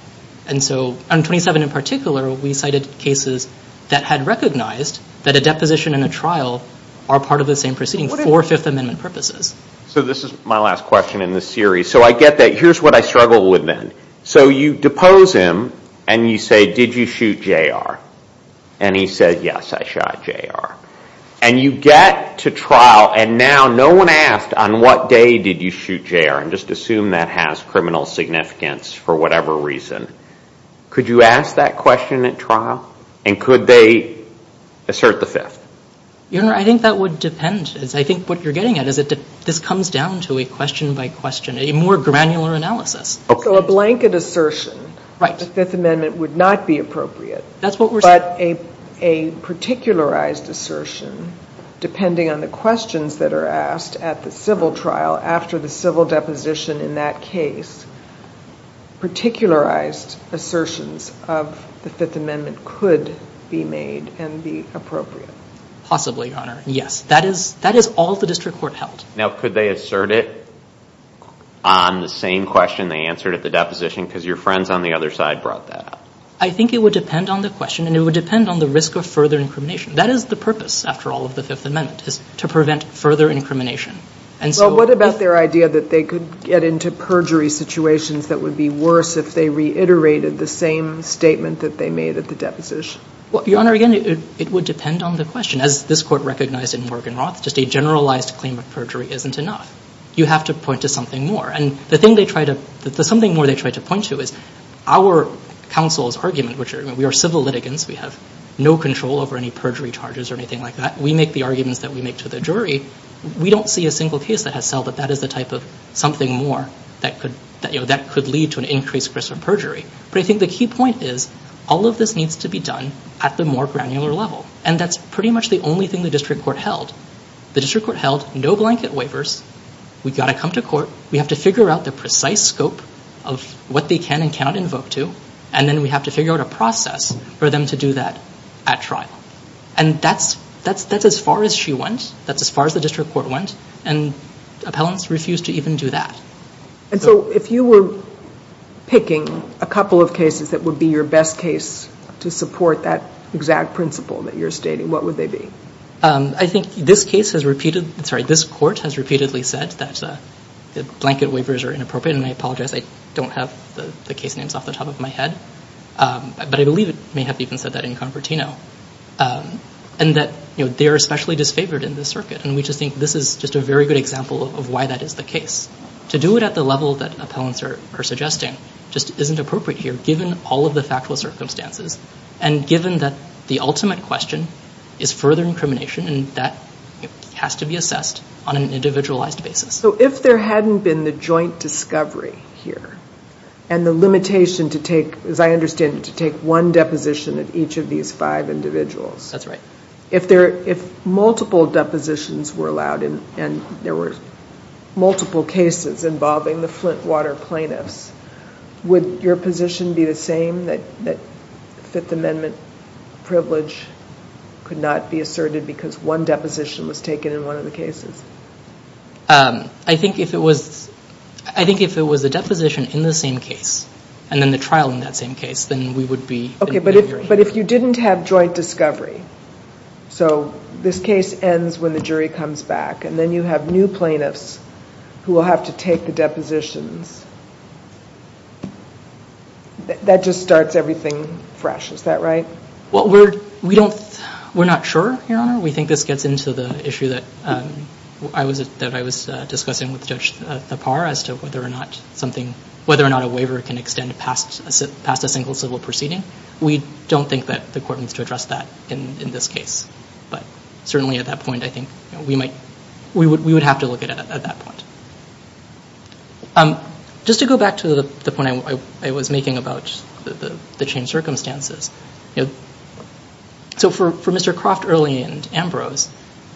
And so on 27 in particular, we cited cases that had recognized that a deposition and a trial are part of the same proceeding for Fifth Amendment purposes. So this is my last question in this series. So I get that. Here's what I struggle with then. So you depose him and you say, did you shoot J.R.? And he said, yes, I shot J.R. And you get to trial and now no one asked, on what day did you shoot J.R.? And just assume that has criminal significance for whatever reason. Could you ask that question at trial? And could they assert the Fifth? Your Honor, I think that would depend. I think what you're getting at is that this comes down to a question by question, a more granular analysis. So a blanket assertion to Fifth Amendment would not be appropriate. That's what we're saying. But a particularized assertion, depending on the questions that are asked at the civil trial, after the civil deposition in that case, particularized assertions of the Fifth Amendment could be made and be appropriate. Possibly, Your Honor. Yes. That is all the district court held. Now, could they assert it on the same question they answered at the deposition? Because your friends on the other side brought that up. I think it would depend on the question and it would depend on the risk of further incrimination. That is the purpose, after all, of the Fifth Amendment, is to prevent further incrimination. Well, what about their idea that they could get into perjury situations that would be worse if they reiterated the same statement that they made at the deposition? Your Honor, again, it would depend on the question. As this court recognized in Morgan Roth, just a generalized claim of perjury isn't enough. You have to point to something more. Something more they tried to point to is our counsel's argument, which we are civil litigants. We have no control over any perjury charges or anything like that. We make the arguments that we make to the jury. We don't see a single case that has felt that that is the type of something more that could lead to an increased risk of perjury. But I think the key point is all of this needs to be done at the more granular level. And that's pretty much the only thing the district court held. The district court held no blanket waivers. We've got to come to court. We have to figure out the precise scope of what they can and cannot invoke to. And then we have to figure out a process for them to do that at trial. And that's as far as she went. That's as far as the district court went. And appellants refused to even do that. And so if you were picking a couple of cases that would be your best case to support that exact principle that you're stating, what would they be? I think this court has repeatedly said that blanket waivers are inappropriate. And I apologize. I don't have the case names off the top of my head. But I believe it may have even said that in Convertino. And that they are especially disfavored in this circuit. And we just think this is just a very good example of why that is the case. To do it at the level that appellants are suggesting just isn't appropriate here given all of the factual circumstances and given that the ultimate question is further incrimination. And that has to be assessed on an individualized basis. So if there hadn't been the joint discovery here and the limitation to take, as I understand it, to take one deposition of each of these five individuals. That's right. If multiple depositions were allowed and there were multiple cases involving the Flint water plaintiffs, would your position be the same, that Fifth Amendment privilege could not be asserted because one deposition was taken in one of the cases? I think if it was a deposition in the same case and then the trial in that same case, then we would be in favor. Okay, but if you didn't have joint discovery. So this case ends when the jury comes back. And then you have new plaintiffs who will have to take the depositions. That just starts everything fresh. Is that right? Well, we're not sure, Your Honor. We think this gets into the issue that I was discussing with Judge Napar as to whether or not a waiver can extend past a single civil proceeding. We don't think that the court needs to address that in this case. But certainly at that point, I think we would have to look at it at that point. Just to go back to the point I was making about the changed circumstances. So for Mr. Croft early and Ambrose,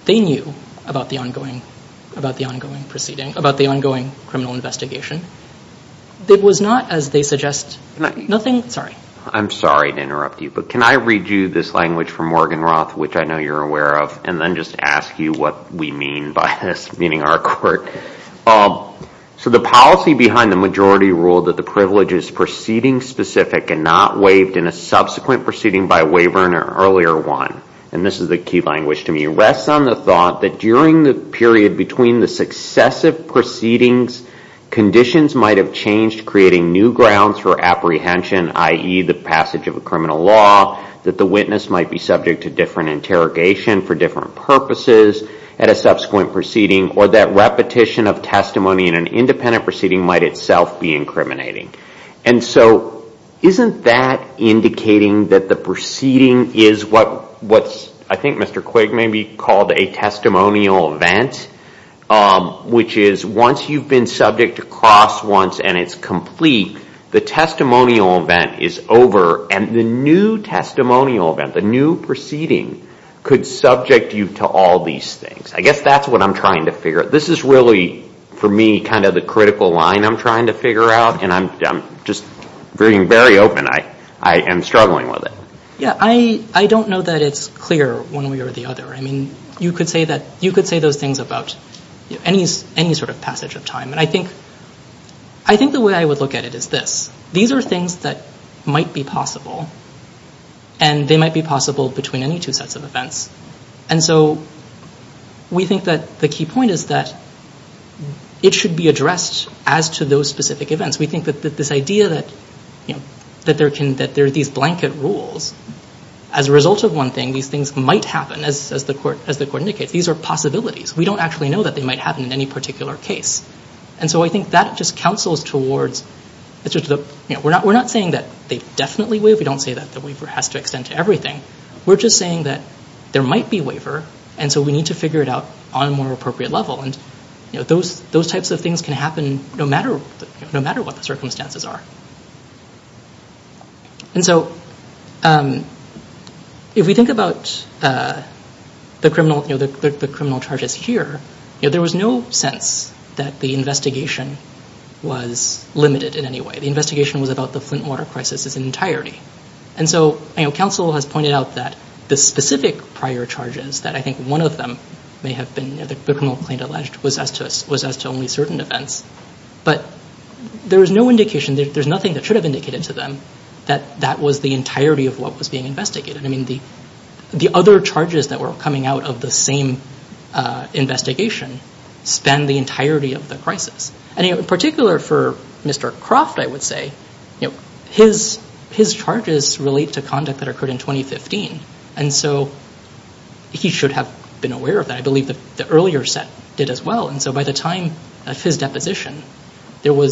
they knew about the ongoing criminal investigation. It was not, as they suggest, nothing. I'm sorry to interrupt you, but can I read you this language from Morgan Roth which I know you're aware of and then just ask you what we mean by this, meaning our court. So the policy behind the majority rule that the privilege is proceeding specific and not waived in a subsequent proceeding by a waiver in an earlier one. And this is the key language to me. Rests on the thought that during the period between the successive proceedings, conditions might have changed creating new grounds for apprehension, i.e. the passage of a criminal law, that the witness might be subject to different interrogation for different purposes at a subsequent proceeding or that repetition of testimony in an independent proceeding might itself be incriminating. And so isn't that indicating that the proceeding is what I think Mr. Quigg maybe called a testimonial event, which is once you've been subject to cross once and it's complete, the testimonial event is over and the new testimonial event, the new proceeding, could subject you to all these things. I guess that's what I'm trying to figure. This is really for me kind of the critical line I'm trying to figure out and I'm just being very open. I am struggling with it. Yeah, I don't know that it's clear one way or the other. I think the way I would look at it is this. These are things that might be possible and they might be possible between any two sets of events. And so we think that the key point is that it should be addressed as to those specific events. We think that this idea that there are these blanket rules as a result of one thing, these things might happen as the court indicates. These are possibilities. We don't actually know that they might happen in any particular case. And so I think that just counsels towards, we're not saying that they definitely waive. We don't say that the waiver has to extend to everything. We're just saying that there might be a waiver and so we need to figure it out on a more appropriate level. Those types of things can happen no matter what the circumstances are. And so if we think about the criminal charges here, there was no sense that the investigation was limited in any way. The investigation was about the Flint water crisis in entirety. And so counsel has pointed out that the specific prior charges, that I think one of them may have been the criminal claim alleged was as to only certain events. But there was no indication, there's nothing that should have been indicated to them that that was the entirety of what was being investigated. I mean the other charges that were coming out of the same investigation span the entirety of the crisis. And in particular for Mr. Croft, I would say, his charges relate to conduct that occurred in 2015. And so he should have been aware of that. I believe that the earlier set did as well. And so by the time of his deposition, the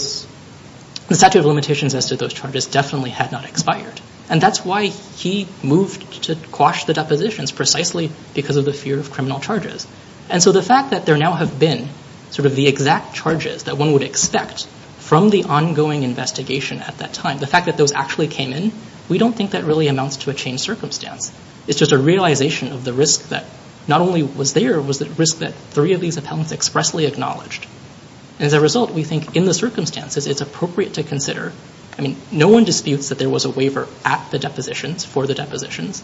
statute of limitations as to those charges definitely had not expired. And that's why he moved to quash the depositions, precisely because of the fear of criminal charges. And so the fact that there now have been sort of the exact charges that one would expect from the ongoing investigation at that time, the fact that those actually came in, we don't think that really amounts to a changed circumstance. It's just a realization of the risk that not only was there, but was the risk that three of these appellants expressly acknowledged. And as a result, we think in those circumstances, it's appropriate to consider, I mean, no one disputes that there was a waiver at the depositions for the depositions.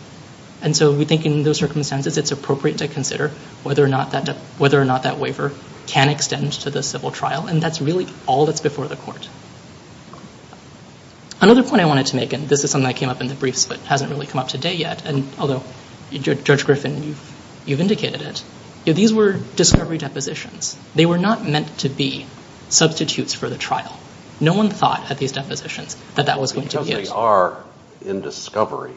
And so we think in those circumstances, it's appropriate to consider whether or not that waiver can extend to the civil trial. And that's really all that's before the courts. Another point I wanted to make, and this is something that came up in the briefs, but hasn't really come up today yet, and although, Judge Griffin, you've indicated it, these were discovery depositions. They were not meant to be substitutes for the trial. No one thought at these depositions that that was going to be the case. So they are in discovery.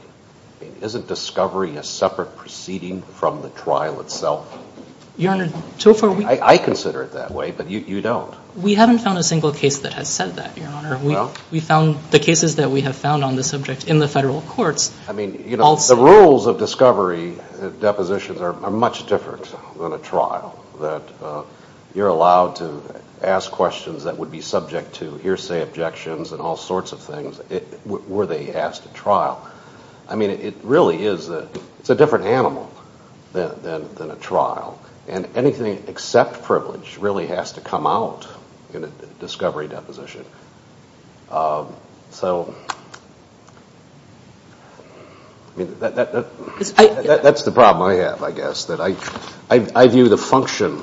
Isn't discovery a separate proceeding from the trial itself? Your Honor, so far we've... I consider it that way, but you don't. We haven't found a single case that has said that, Your Honor. We found the cases that we have found on the subject in the federal courts. I mean, you know, the rules of discovery depositions are much different than a trial, that you're allowed to ask questions that would be subject to hearsay objections and all sorts of things were they asked at trial. I mean, it really is a different animal than a trial, and anything except privilege really has to come out in a discovery deposition. So that's the problem I have, I guess, that I view the function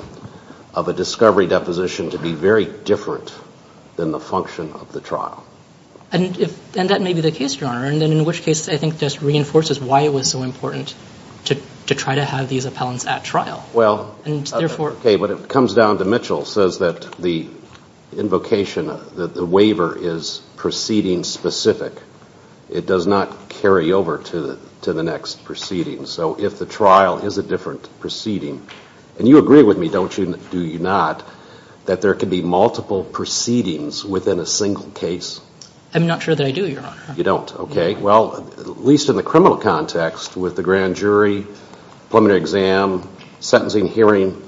of a discovery deposition to be very different than the function of the trial. And that may be the case, Your Honor, in which case I think just reinforces why it was so important to try to have these appellants at trial. Okay, but it comes down to Mitchell says that the invocation, that the waiver is proceeding specific. It does not carry over to the next proceeding. So if the trial is a different proceeding, and you agree with me, don't you, do you not, that there could be multiple proceedings within a single case? I'm not sure that I do, Your Honor. You don't, okay. Well, at least in the criminal context with the grand jury, preliminary exam, sentencing hearing,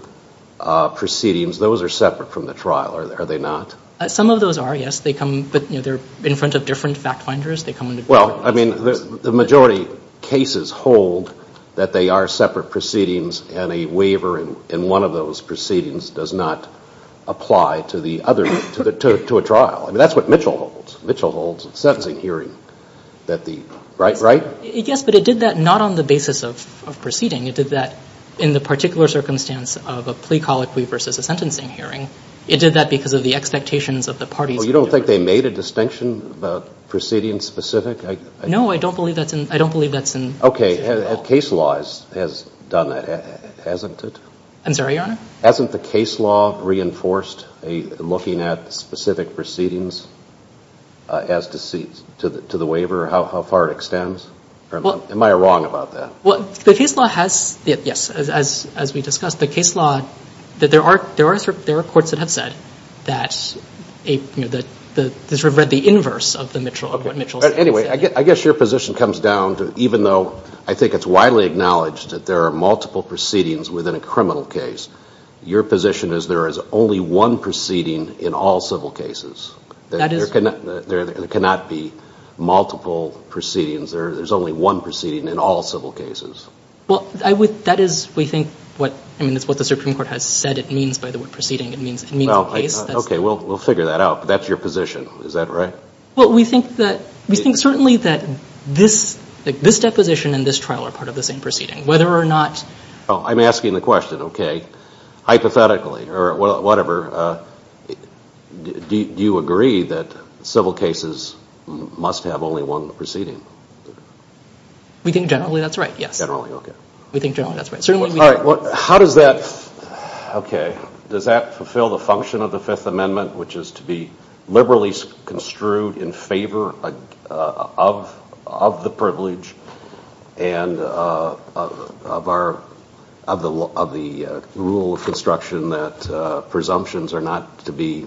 proceedings, those are separate from the trial, are they not? Some of those are, yes. They come in front of different fact finders. Well, I mean, the majority of cases hold that they are separate proceedings, and a waiver in one of those proceedings does not apply to a trial. I mean, that's what Mitchell holds. Mitchell holds a sentencing hearing that the, right, right? Yes, but it did that not on the basis of proceeding. It did that in the particular circumstance of a plea, call it plea, versus a sentencing hearing. It did that because of the expectations of the parties. Well, you don't think they made a distinction about proceedings specific? No, I don't believe that's in. I don't believe that's in. I'm sorry, Your Honor? Hasn't the case law reinforced looking at specific proceedings as to the waiver, how far it extends? Am I wrong about that? Well, the case law has, yes, as we discussed. The case law, there are courts that have said that, you know, they sort of read the inverse of what Mitchell has said. Anyway, I guess your position comes down to, even though I think it's widely acknowledged that there are multiple proceedings within a criminal case, your position is there is only one proceeding in all civil cases. That is. There cannot be multiple proceedings. There's only one proceeding in all civil cases. Well, I would, that is, we think, what, I mean, it's what the Supreme Court has said it means by the word proceeding. It means in either case. Okay, we'll figure that out. That's your position. Is that right? Well, we think that, we think certainly that this deposition and this trial are part of the same proceeding, whether or not... Oh, I'm asking the question, okay. Hypothetically or whatever, do you agree that civil cases must have only one proceeding? We think generally that's right, yes. Generally, okay. We think generally that's right. How does that, okay, does that fulfill the function of the Fifth Amendment, which is to be liberally construed in favor of the privilege, and of our, of the rule of construction that presumptions are not to be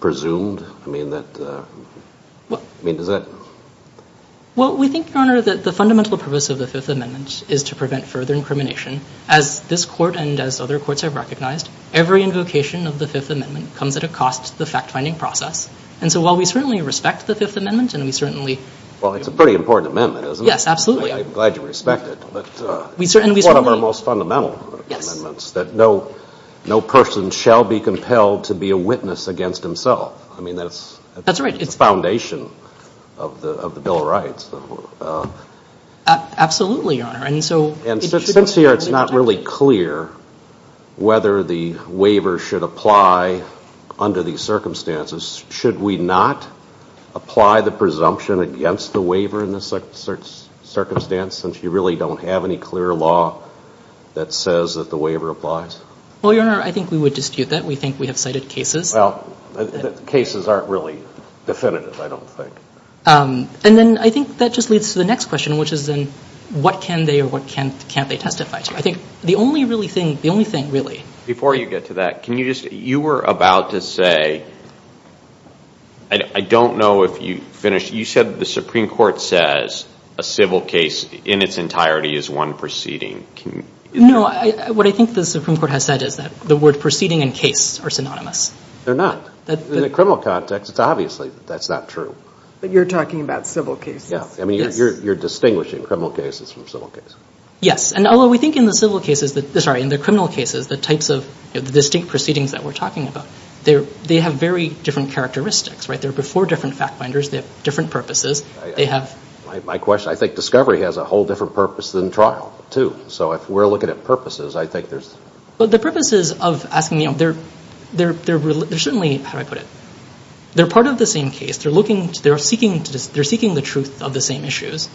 presumed? I mean, that, I mean, does that... As this Court and as other courts have recognized, every invocation of the Fifth Amendment comes at a cost to the fact-finding process, and so while we certainly respect the Fifth Amendment and we certainly... Well, it's a pretty important amendment, isn't it? Yes, absolutely. I'm glad you respect it, but... We certainly... It's one of our most fundamental amendments. Yes. That no, no person shall be compelled to be a witness against himself. I mean, that's... That's right. It's the foundation of the Bill of Rights. Absolutely, Your Honor, and so... Since it's not really clear whether the waiver should apply under these circumstances, should we not apply the presumption against the waiver in this circumstance since you really don't have any clear law that says that the waiver applies? Well, Your Honor, I think we would dispute that. We think we have cited cases. Well, cases aren't really definitive, I don't think. And then I think that just leads to the next question, which is then what can they or what can't they testify to? I think the only thing really... Before you get to that, can you just... You were about to say... I don't know if you finished. You said the Supreme Court says a civil case in its entirety is one proceeding. No, what I think the Supreme Court has said is that the word proceeding and case are synonymous. They're not. In the criminal context, it's obvious that that's not true. But you're talking about civil cases. I mean, you're distinguishing criminal cases from civil cases. Yes, and although we think in the criminal cases, the types of distinct proceedings that we're talking about, they have very different characteristics. They're before different fact-finders. They have different purposes. My question, I think discovery has a whole different purpose than trial, too. So if we're looking at purposes, I think there's... The purposes of asking... They're certainly... How do I put it? They're part of the same case. They're seeking the truth of the same issues.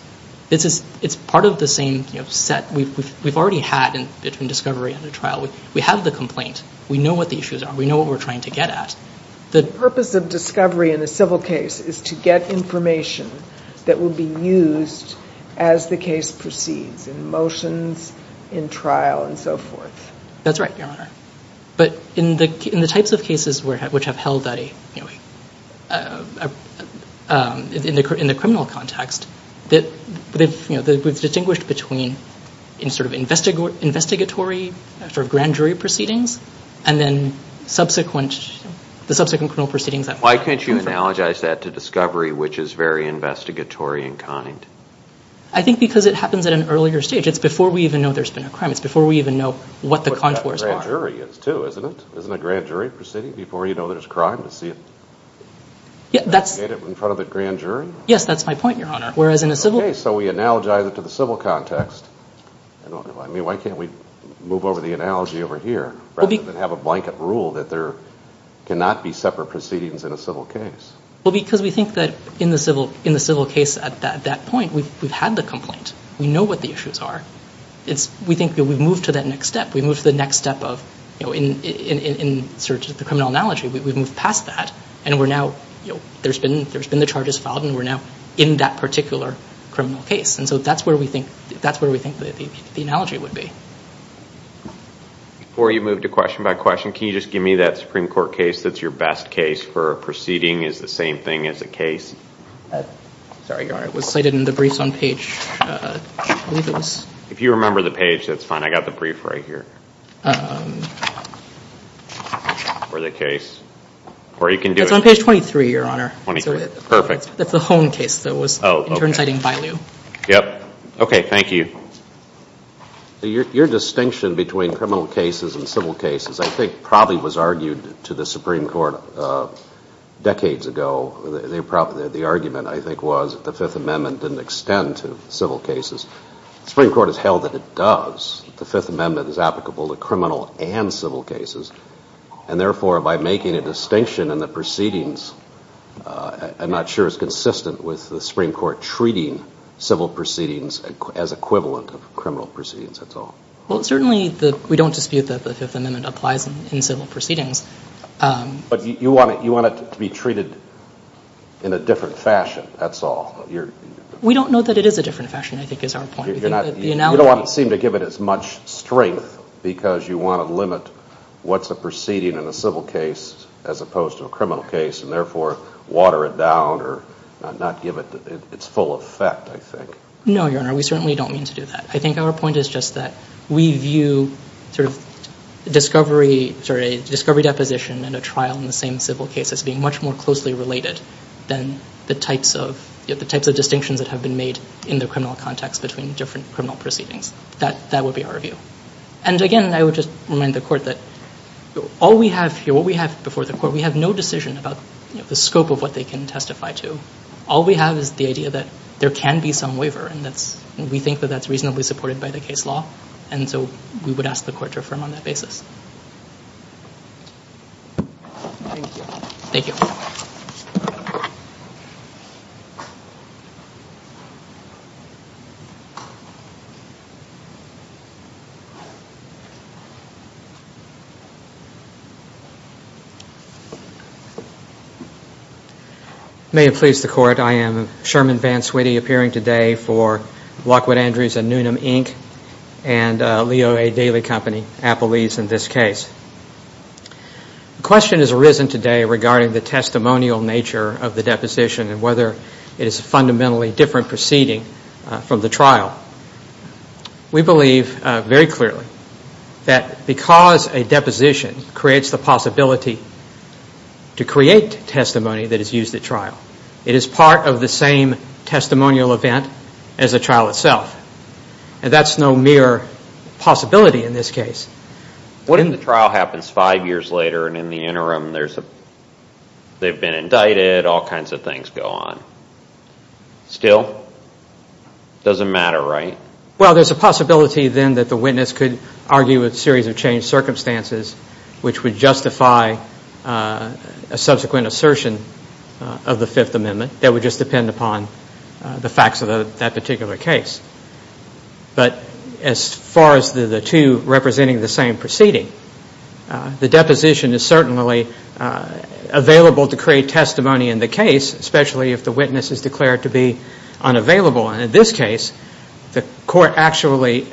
It's part of the same set we've already had between discovery and the trial. We have the complaint. We know what the issues are. We know what we're trying to get at. The purpose of discovery in the civil case is to get information that will be used as the case proceeds in motions, in trial, and so forth. That's right. But in the types of cases which have held in the criminal context, they're distinguished between sort of investigatory, sort of grand jury proceedings, and then the subsequent criminal proceedings. Why can't you analogize that to discovery, which is very investigatory in kind? I think because it happens at an earlier stage. It's before we even know there's been a crime. It's before we even know what the conflicts are. But that's what a grand jury is, too, isn't it? Isn't a grand jury proceeding before you know there's a crime? Investigate it in front of a grand jury? Yes, that's my point, Your Honor. Whereas in a civil case... Okay, so we analogize it to the civil context. Why can't we move over the analogy over here rather than have a blanket rule that there cannot be separate proceedings in a civil case? Well, because we think that in the civil case at that point, we've had the complaint. We know what the issues are. We think that we've moved to that next step. We've moved to the next step of in search of the criminal analogy. We've moved past that, and there's been the charges filed, and we're now in that particular criminal case. And so that's where we think the analogy would be. Before you move to question by question, can you just give me that Supreme Court case that's your best case Sorry, Your Honor. It was cited in the brief on page... If you remember the page, that's fine. I've got the brief right here for the case. Or you can do it. It's on page 23, Your Honor. 23, perfect. That's the home case that was... Oh, okay... Yep. Okay, thank you. Your distinction between criminal cases and civil cases, I think probably was argued to the Supreme Court decades ago. The argument, I think, was the Fifth Amendment didn't extend to civil cases. The Supreme Court has held that it does. The Fifth Amendment is applicable to criminal and civil cases. And therefore, by making a distinction in the proceedings, I'm not sure it's consistent with the Supreme Court treating civil proceedings as equivalent of criminal proceedings, that's all. Well, certainly we don't dispute that the Fifth Amendment applies in civil proceedings. But you want it to be treated in a different fashion, that's all. We don't know that it is a different fashion, I think is our point. You don't seem to give it as much strength because you want to limit what's a proceeding in a civil case as opposed to a criminal case, and therefore water it down or not give it its full effect, I think. No, Your Honor, we certainly don't mean to do that. I think our point is just that we view discovery deposition and a trial in the same civil case as being much more closely related than the types of distinctions that have been made in the criminal context between different criminal proceedings. That would be our view. And again, I would just remind the Court that all we have here, what we have before the Court, we have no decision about the scope of what they can testify to. All we have is the idea that there can be some waiver and we think that that's reasonably supported by the case law, and so we would ask the Court to affirm on that basis. I am Sherman VanSweetie, appearing today for Lockwood Andrews & Newnham, Inc., and Leo A. Daley Company, Applebee's, in this case. The question has arisen today regarding the testimonial nature of the deposition and whether it is fundamentally different proceeding from the trial. We believe very clearly that because a deposition creates the possibility to create testimony that is used at trial, it is part of the same testimonial event as the trial itself, and that's no mere possibility in this case. When the trial happens five years later and in the interim they've been indicted, all kinds of things go on. Still, it doesn't matter, right? Well, there's a possibility then that the witness could argue with a series of changed circumstances which would justify a subsequent assertion of the Fifth Amendment that would just depend upon the facts of that particular case. But as far as the two representing the same proceeding, the deposition is certainly available to create testimony in the case, especially if the witness is declared to be unavailable, and in this case the Court actually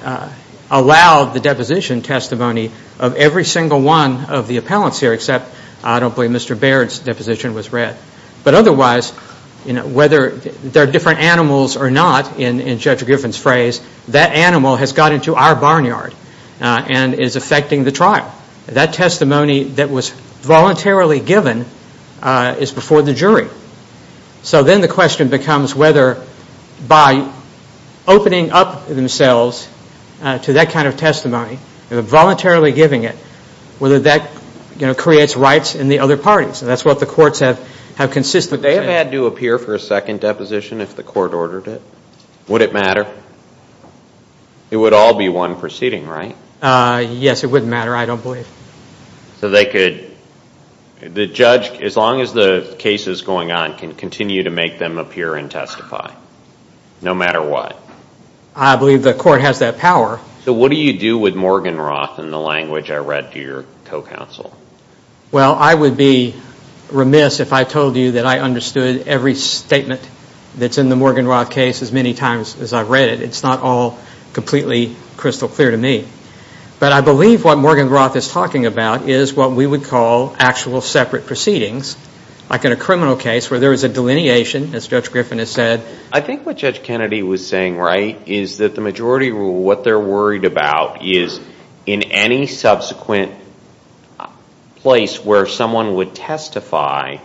allowed the deposition testimony of every single one of the appellants here, except I don't believe Mr. Baird's deposition was read. But otherwise, whether they're different animals or not, in Judge Griffin's phrase, that animal has got into our barnyard and is affecting the trial. That testimony that was voluntarily given is before the jury. So then the question becomes whether by opening up themselves to that kind of testimony and voluntarily giving it, whether that creates rights in the other parties, and that's what the courts have consistently said. Would they have had to appear for a second deposition if the court ordered it? Would it matter? It would all be one proceeding, right? Yes, it would matter, I don't believe. So they could, the judge, as long as the case is going on, can continue to make them appear and testify, no matter what? I believe the court has that power. So what do you do with Morgan Roth in the language I read to your co-counsel? Well, I would be remiss if I told you that I understood every statement that's in the Morgan Roth case as many times as I've read it. It's not all completely crystal clear to me. But I believe what Morgan Roth is talking about is what we would call actual separate proceedings, like in a criminal case where there is a delineation, as Judge Griffin has said. I think what Judge Kennedy was saying, right, is that the majority of what they're worried about is in any subsequent place where someone would testify,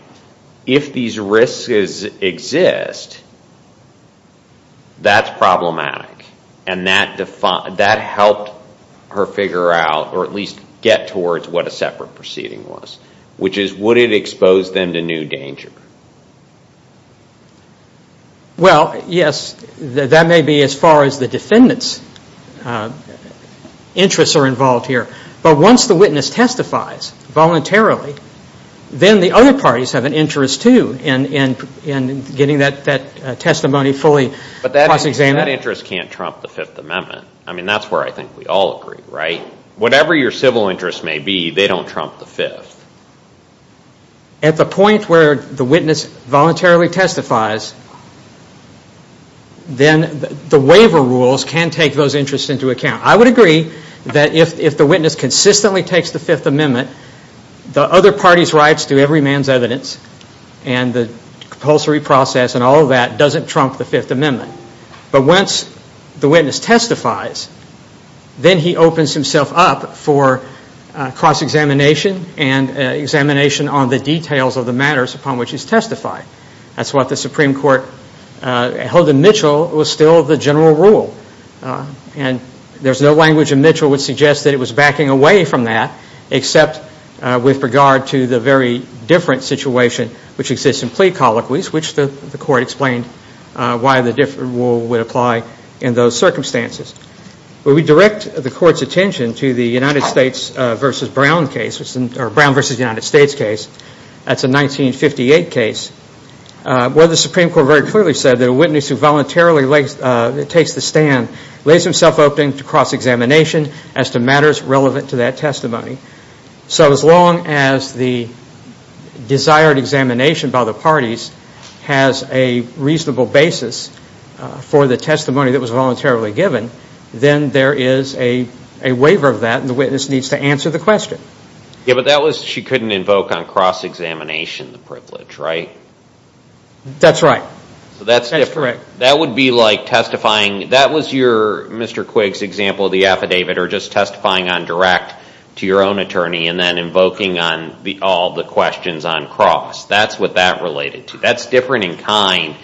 if these risks exist, that's problematic. And that helped her figure out, or at least get towards what a separate proceeding was, which is would it expose them to new danger? Well, yes, that may be as far as the defendant's interests are involved here. But once the witness testifies voluntarily, then the other parties have an interest, too, in getting that testimony fully cross-examined. But that interest can't trump the Fifth Amendment. I mean, that's where I think we all agree, right? At the point where the witness voluntarily testifies, then the waiver rules can take those interests into account. I would agree that if the witness consistently takes the Fifth Amendment, the other party's rights to every man's evidence and the compulsory process and all of that doesn't trump the Fifth Amendment. But once the witness testifies, then he opens himself up for cross-examination and examination on the details of the matters upon which he's testified. That's what the Supreme Court held in Mitchell was still the general rule. And there's no language in Mitchell which suggests that it was backing away from that, except with regard to the very different situation which exists in plea colloquies, which the court explained why the different rule would apply in those circumstances. But we direct the court's attention to the United States v. Brown case, or Brown v. United States case. That's a 1958 case where the Supreme Court very clearly said that a witness who voluntarily takes the stand lays himself open to cross-examination as to matters relevant to that testimony. So as long as the desired examination by the parties has a reasonable basis for the testimony that was voluntarily given, then there is a waiver of that and the witness needs to answer the question. Yeah, but that was, she couldn't invoke on cross-examination the privilege, right? That's right. That's correct. That would be like testifying, that was your, Mr. Quigg's example of the affidavit, or just testifying on direct to your own attorney and then invoking on all the questions on cross. That's what that related to. That's different in time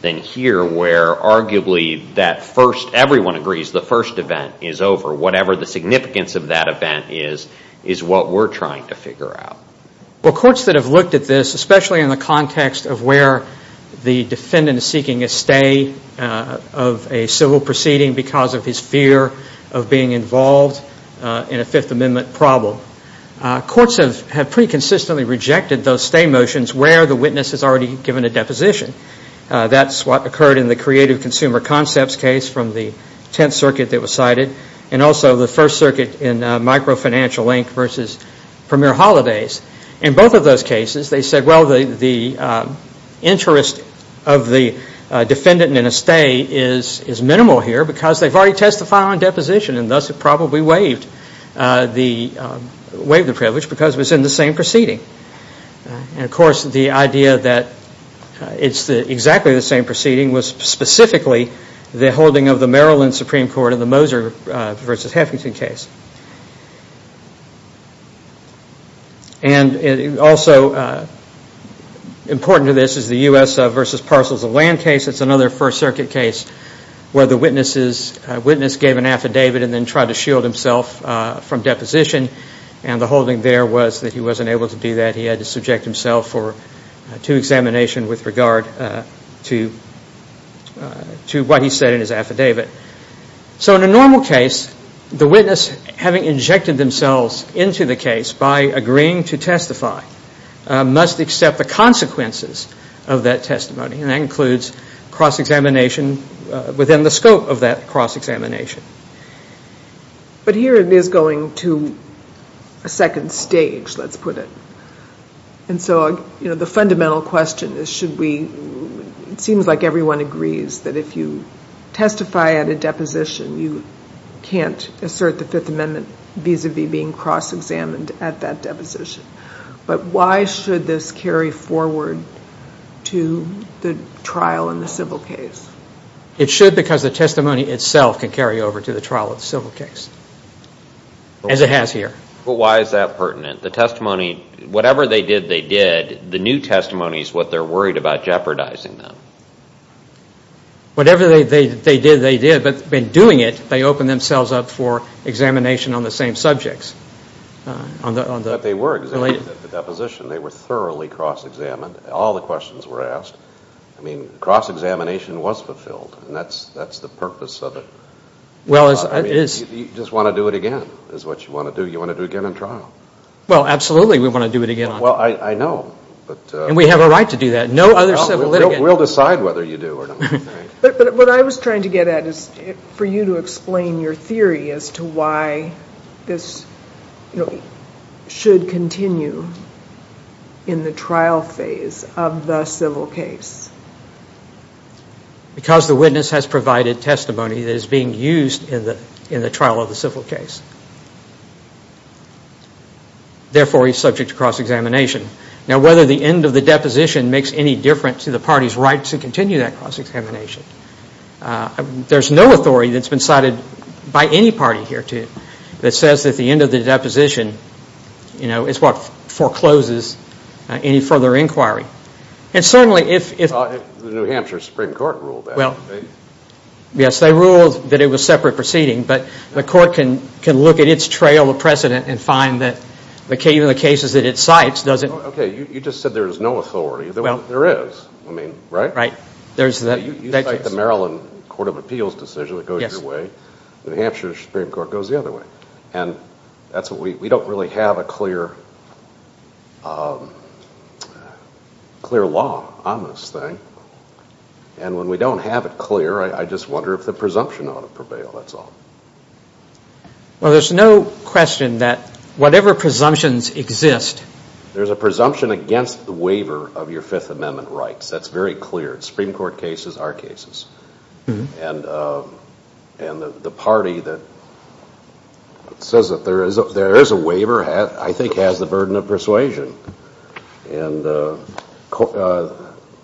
than here where arguably that first, everyone agrees the first event is over. Whatever the significance of that event is, is what we're trying to figure out. Well, courts that have looked at this, especially in the context of where the defendant is seeking a stay of a civil proceeding because of his fear of being involved in a Fifth Amendment problem, courts have pretty consistently rejected those stay motions where the witness has already given a deposition. That's what occurred in the Creative Consumer Concepts case from the Tenth Circuit that was cited and also the First Circuit in Microfinancial Inc. versus Premier Holladay's. In both of those cases, they said, well, the interest of the defendant in a stay is minimal here because they've already testified on deposition and thus have probably waived the privilege because it was in the same proceeding. Of course, the idea that it's exactly the same proceeding was specifically the holding of the Maryland Supreme Court in the Moser versus Hefferson case. Also important to this is the U.S. versus Parsons of Land case. It's another First Circuit case where the witness gave an affidavit and then tried to shield himself from deposition and the holding there was that he wasn't able to do that. He had to subject himself to examination with regard to what he said in his affidavit. So in a normal case, the witness, having injected themselves into the case by agreeing to testify, must accept the consequences of that testimony, and that includes cross-examination within the scope of that cross-examination. But here it is going to a second stage, let's put it. And so the fundamental question is should we, it seems like everyone agrees that if you testify at a deposition, you can't assert the Fifth Amendment vis-à-vis being cross-examined at that deposition. But why should this carry forward to the trial in the civil case? It should because the testimony itself can carry over to the trial in the civil case, as it has here. But why is that pertinent? The testimony, whatever they did, they did. The new testimony is what they're worried about jeopardizing them. Whatever they did, they did. But in doing it, they opened themselves up for examination on the same subjects. But they were examined at the deposition. They were thoroughly cross-examined. All the questions were asked. I mean, cross-examination was fulfilled, and that's the purpose of it. You just want to do it again is what you want to do. You want to do it again in trial. Well, absolutely, we want to do it again. Well, I know. And we have a right to do that. We'll decide whether you do or not. But what I was trying to get at is for you to explain your theory as to why this should continue in the trial phase of the civil case. Because the witness has provided testimony that is being used in the trial of the civil case. Therefore, he's subject to cross-examination. Now, whether the end of the deposition makes any difference to the party's right to continue that cross-examination, there's no authority that's been cited by any party here that says that the end of the deposition, you know, is what forecloses any further inquiry. And certainly, if the New Hampshire Supreme Court ruled that. Yes, they ruled that it was separate proceeding. But the court can look at its trail precedent and find that the cases that it cites doesn't. Okay, you just said there's no authority. There is. I mean, right? Right. You make the Maryland Court of Appeals decision that goes your way. The New Hampshire Supreme Court goes the other way. And we don't really have a clear law on this thing. And when we don't have it clear, I just wonder if the presumption ought to prevail, that's all. Well, there's no question that whatever presumptions exist. There's a presumption against the waiver of your Fifth Amendment rights. That's very clear. Supreme Court cases are cases. And the party that says that there is a waiver, I think, has the burden of persuasion. And Corovinto,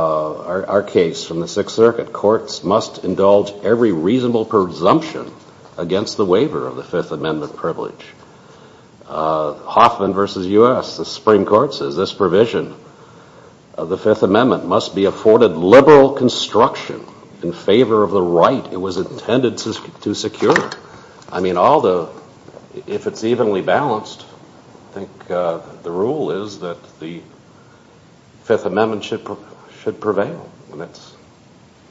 our case from the Sixth Circuit, courts must indulge every reasonable presumption against the waiver of the Fifth Amendment privilege. Hoffman v. U.S., the Supreme Court says this provision of the Fifth Amendment must be afforded liberal construction in favor of the right it was intended to secure. I mean, although, if it's evenly balanced, I think the rule is that the Fifth Amendment should prevail.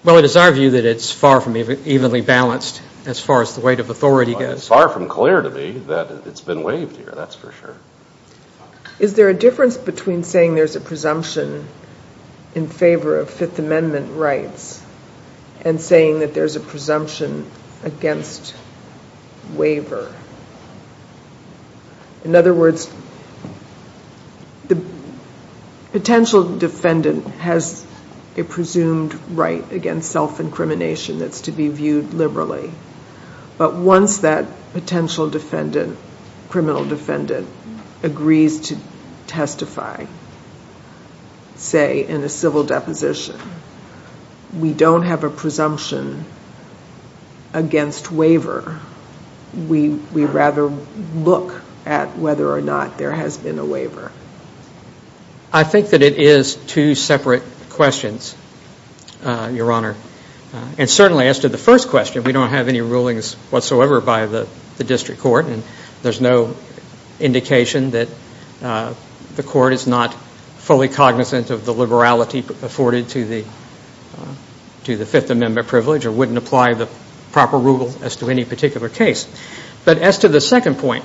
Well, it is argued that it's far from evenly balanced as far as the weight of authority goes. Far from clear to me that it's been waived here, that's for sure. Is there a difference between saying there's a presumption in favor of Fifth Amendment rights and saying that there's a presumption against waiver? In other words, the potential defendant has a presumed right against self-incrimination that's to be viewed liberally. But once that potential defendant, criminal defendant, agrees to testify, say, in a civil deposition, we don't have a presumption against waiver. We rather look at whether or not there has been a waiver. I think that it is two separate questions, Your Honor. And certainly, as to the first question, we don't have any rulings whatsoever by the district court, and there's no indication that the court is not fully cognizant of the liberality afforded to the Fifth Amendment privilege or wouldn't apply the proper rule as to any particular case. But as to the second point,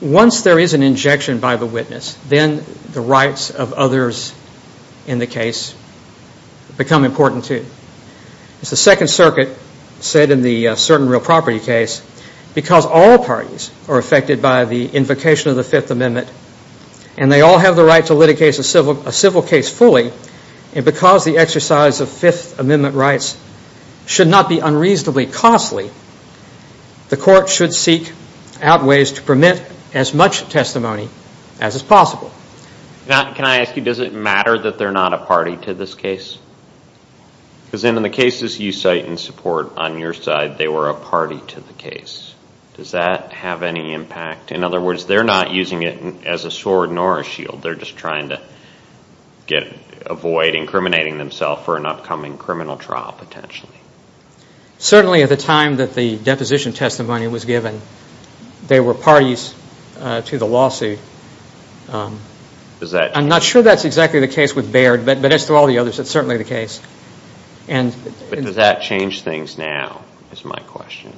once there is an injection by the witness, then the rights of others in the case become important, too. As the Second Circuit said in the certain real property case, because all parties are affected by the invocation of the Fifth Amendment and they all have the right to litigate a civil case fully, and because the exercise of Fifth Amendment rights should not be unreasonably costly, the court should seek out ways to permit as much testimony as is possible. Now, can I ask you, does it matter that they're not a party to this case? Because in the cases you cite in support on your side, they were a party to the case. Does that have any impact? In other words, they're not using it as a sword nor a shield. They're just trying to avoid incriminating themselves for an upcoming criminal trial, potentially. Certainly at the time that the deposition testimony was given, they were parties to the lawsuit. I'm not sure that's exactly the case with Baird, but as for all the others, it's certainly the case. But does that change things now, is my question.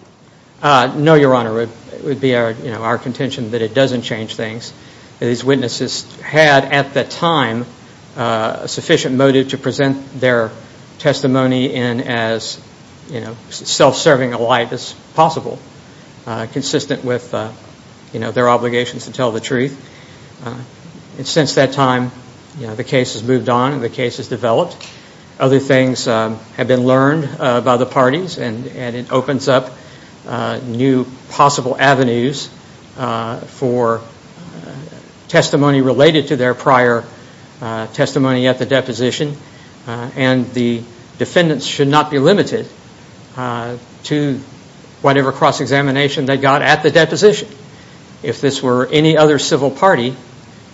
No, Your Honor. It would be our contention that it doesn't change things. These witnesses had at that time a sufficient motive to present their testimony in as self-serving a light as possible, consistent with their obligations to tell the truth. And since that time, the case has moved on and the case has developed. Other things have been learned by the parties, and it opens up new possible avenues for testimony related to their prior testimony at the deposition. And the defendants should not be limited to whatever cross-examination they got at the deposition. If this were any other civil party,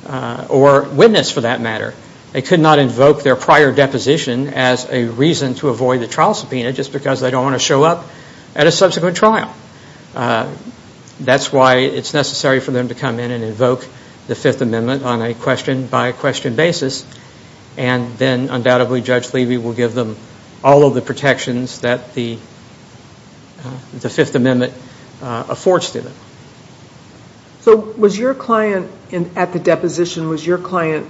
or witness for that matter, they could not invoke their prior deposition as a reason to avoid the trial subpoena just because they don't want to show up at a subsequent trial. That's why it's necessary for them to come in and invoke the Fifth Amendment on a question-by-question basis, and then undoubtedly Judge Levy will give them all of the protections that the Fifth Amendment affords to them. So was your client at the deposition, was your client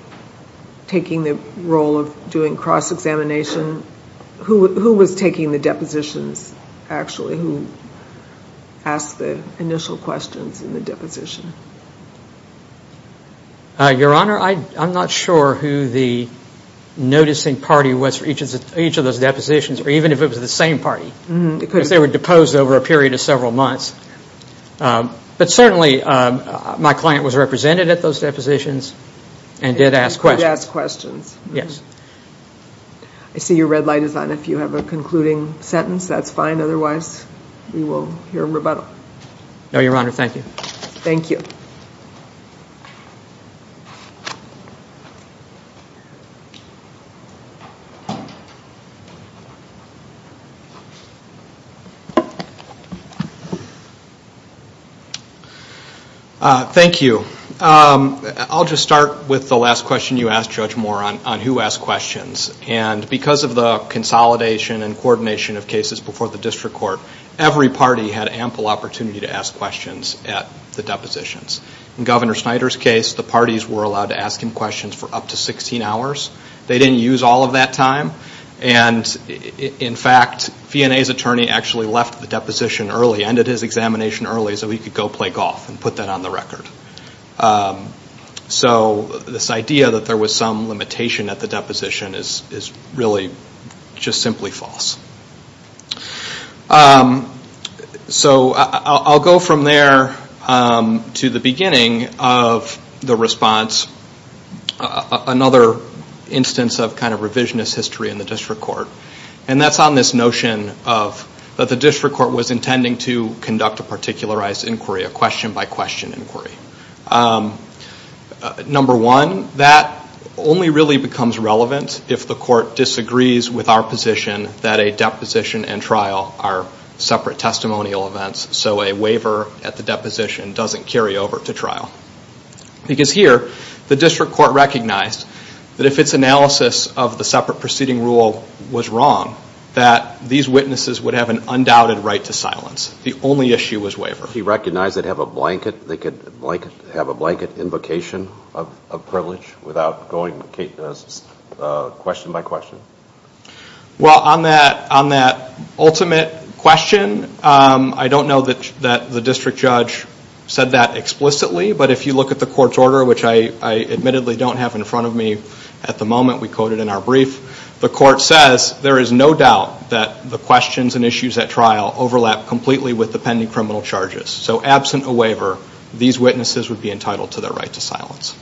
taking the role of doing cross-examination? Who was taking the deposition actually, who asked the initial questions in the deposition? Your Honor, I'm not sure who the noticing party was for each of those depositions, or even if it was the same party, because they were deposed over a period of several months. But certainly my client was represented at those depositions and did ask questions. Did ask questions. Yes. I see your red light is on. If you have a concluding sentence, that's fine. Otherwise, we will hear a rebuttal. No, Your Honor. Thank you. Thank you. Thank you. I'll just start with the last question you asked, Judge Moore, on who asked questions. And because of the consolidation and coordination of cases before the district court, every party had ample opportunity to ask questions at the depositions. In Governor Snyder's case, the parties were allowed to ask him questions for up to 16 hours. They didn't use all of that time. And, in fact, DNA's attorney actually left the deposition early, ended his examination early, so he could go play golf and put that on the record. So this idea that there was some limitation at the deposition is really just simply false. So I'll go from there to the beginning of the response, another instance of kind of revisionist history in the district court, and that's on this notion that the district court was intending to conduct a particularized inquiry, a question-by-question inquiry. Number one, that only really becomes relevant if the court disagrees with our position that a deposition and trial are separate testimonial events, so a waiver at the deposition doesn't carry over to trial. Because here, the district court recognized that if its analysis of the separate proceeding rule was wrong, that these witnesses would have an undoubted right to silence. The only issue was waiver. He recognized they could have a blanket invocation of privilege without going question-by-question. Well, on that ultimate question, I don't know that the district judge said that explicitly, but if you look at the court's order, which I admittedly don't have in front of me at the moment, we quote it in our brief, the court says, there is no doubt that the questions and issues at trial overlap completely with the pending criminal charges. So absent a waiver, these witnesses would be entitled to their right to silence.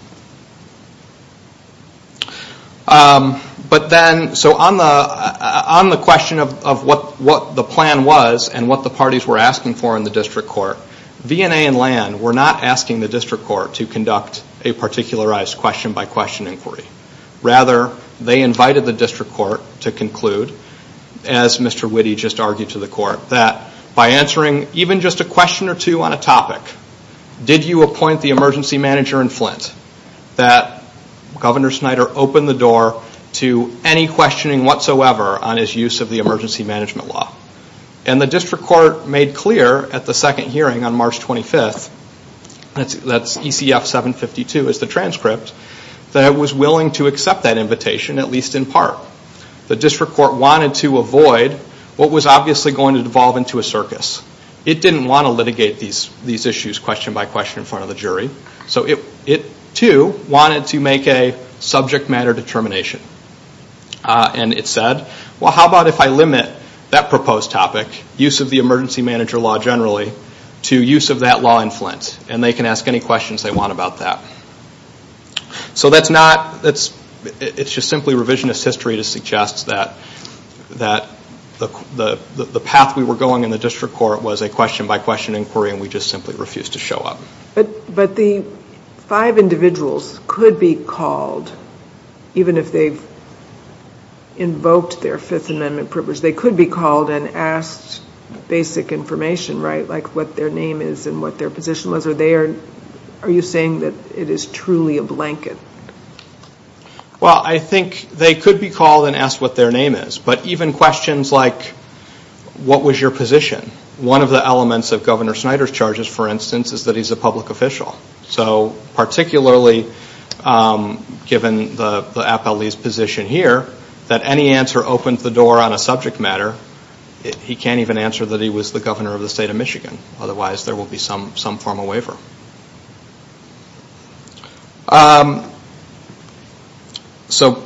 So on the question of what the plan was and what the parties were asking for in the district court, V&A and LAND were not asking the district court to conduct a particularized question-by-question inquiry. Rather, they invited the district court to conclude, as Mr. Witte just argued to the court, that by answering even just a question or two on a topic, did you appoint the emergency manager in Flint, that Governor Snyder opened the door to any questioning whatsoever on his use of the emergency management law. And the district court made clear at the second hearing on March 25th, that's ECF 752 is the transcript, that it was willing to accept that invitation, at least in part. The district court wanted to avoid what was obviously going to devolve into a circus. It didn't want to litigate these issues question-by-question in front of the jury. So it, too, wanted to make a subject matter determination. And it said, well, how about if I limit that proposed topic, use of the emergency manager law generally, to use of that law in Flint, and they can ask any questions they want about that. So that's not, it's just simply revisionist history to suggest that the path we were going in the district court was a question-by-question inquiry, and we just simply refused to show up. But the five individuals could be called, even if they invoked their Fifth Amendment privilege, they could be called and asked basic information, right, like what their name is and what their position was. Are you saying that it is truly a blanket? Well, I think they could be called and asked what their name is. But even questions like, what was your position? One of the elements of Governor Snyder's charges, for instance, is that he's a public official. So particularly given the appellee's position here, that any answer opens the door on a subject matter. He can't even answer that he was the governor of the state of Michigan. Otherwise, there will be some form of waiver. So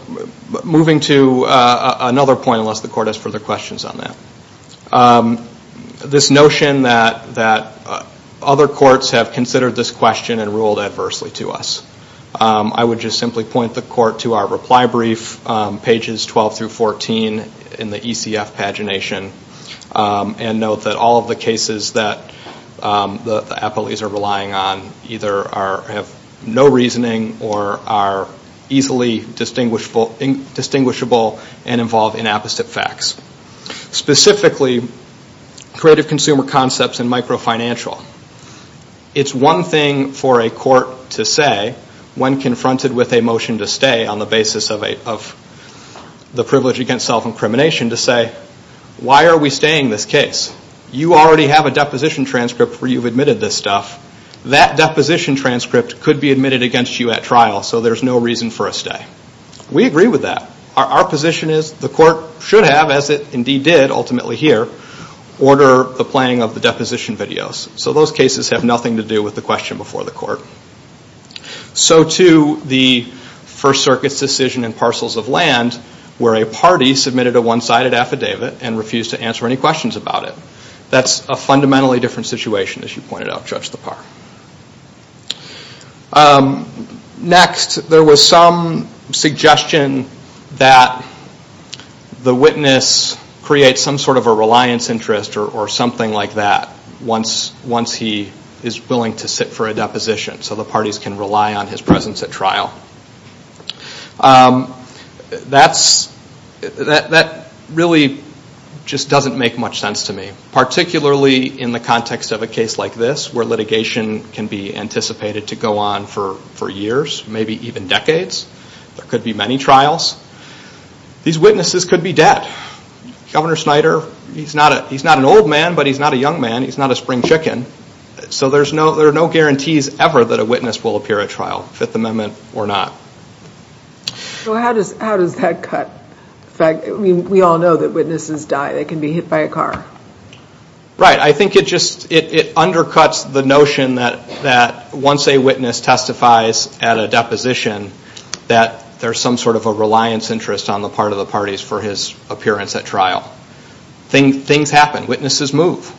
moving to another point, unless the court has further questions on that. This notion that other courts have considered this question and ruled adversely to us. I would just simply point the court to our reply brief, pages 12 through 14 in the ECF pagination, and note that all of the cases that the appellees are relying on either have no reasoning or are easily distinguishable and involve inapposite facts. Specifically, credit consumer concepts and microfinancial. It's one thing for a court to say when confronted with a motion to stay on the basis of the privilege against self-incrimination, to say, why are we staying this case? You already have a deposition transcript where you've admitted this stuff. That deposition transcript could be admitted against you at trial, so there's no reason for a stay. We agree with that. Our position is the court should have, as it indeed did ultimately here, order the playing of the deposition videos. So those cases have nothing to do with the question before the court. So to the First Circuit's decision in parcels of land, where a party submitted a one-sided affidavit and refused to answer any questions about it. That's a fundamentally different situation, as you pointed out, Judge Lepar. Next, there was some suggestion that the witness create some sort of a reliance interest or something like that once he is willing to sit for a deposition, so the parties can rely on his presence at trial. That really just doesn't make much sense to me, particularly in the context of a case like this, where litigation can be anticipated to go on for years, maybe even decades. There could be many trials. These witnesses could be dead. Governor Snyder, he's not an old man, but he's not a young man. He's not a spring chicken. So there are no guarantees ever that a witness will appear at trial, Fifth Amendment or not. So how does that cut? We all know that witnesses die. They can be hit by a car. Right. I think it undercuts the notion that once a witness testifies at a deposition, that there's some sort of a reliance interest on the part of the parties for his appearance at trial. Things happen. Witnesses move.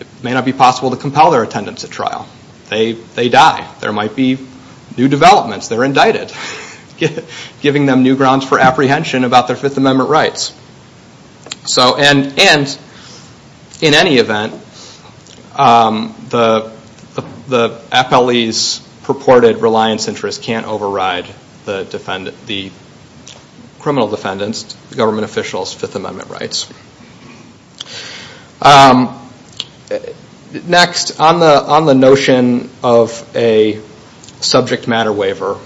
It may not be possible to compel their attendance at trial. They die. There might be new developments. They're indicted, giving them new grounds for apprehension about their Fifth Amendment rights. And in any event, the FLE's purported reliance interest can't override the criminal defendant's, the government official's, Fifth Amendment rights. Next, on the notion of a subject matter waiver,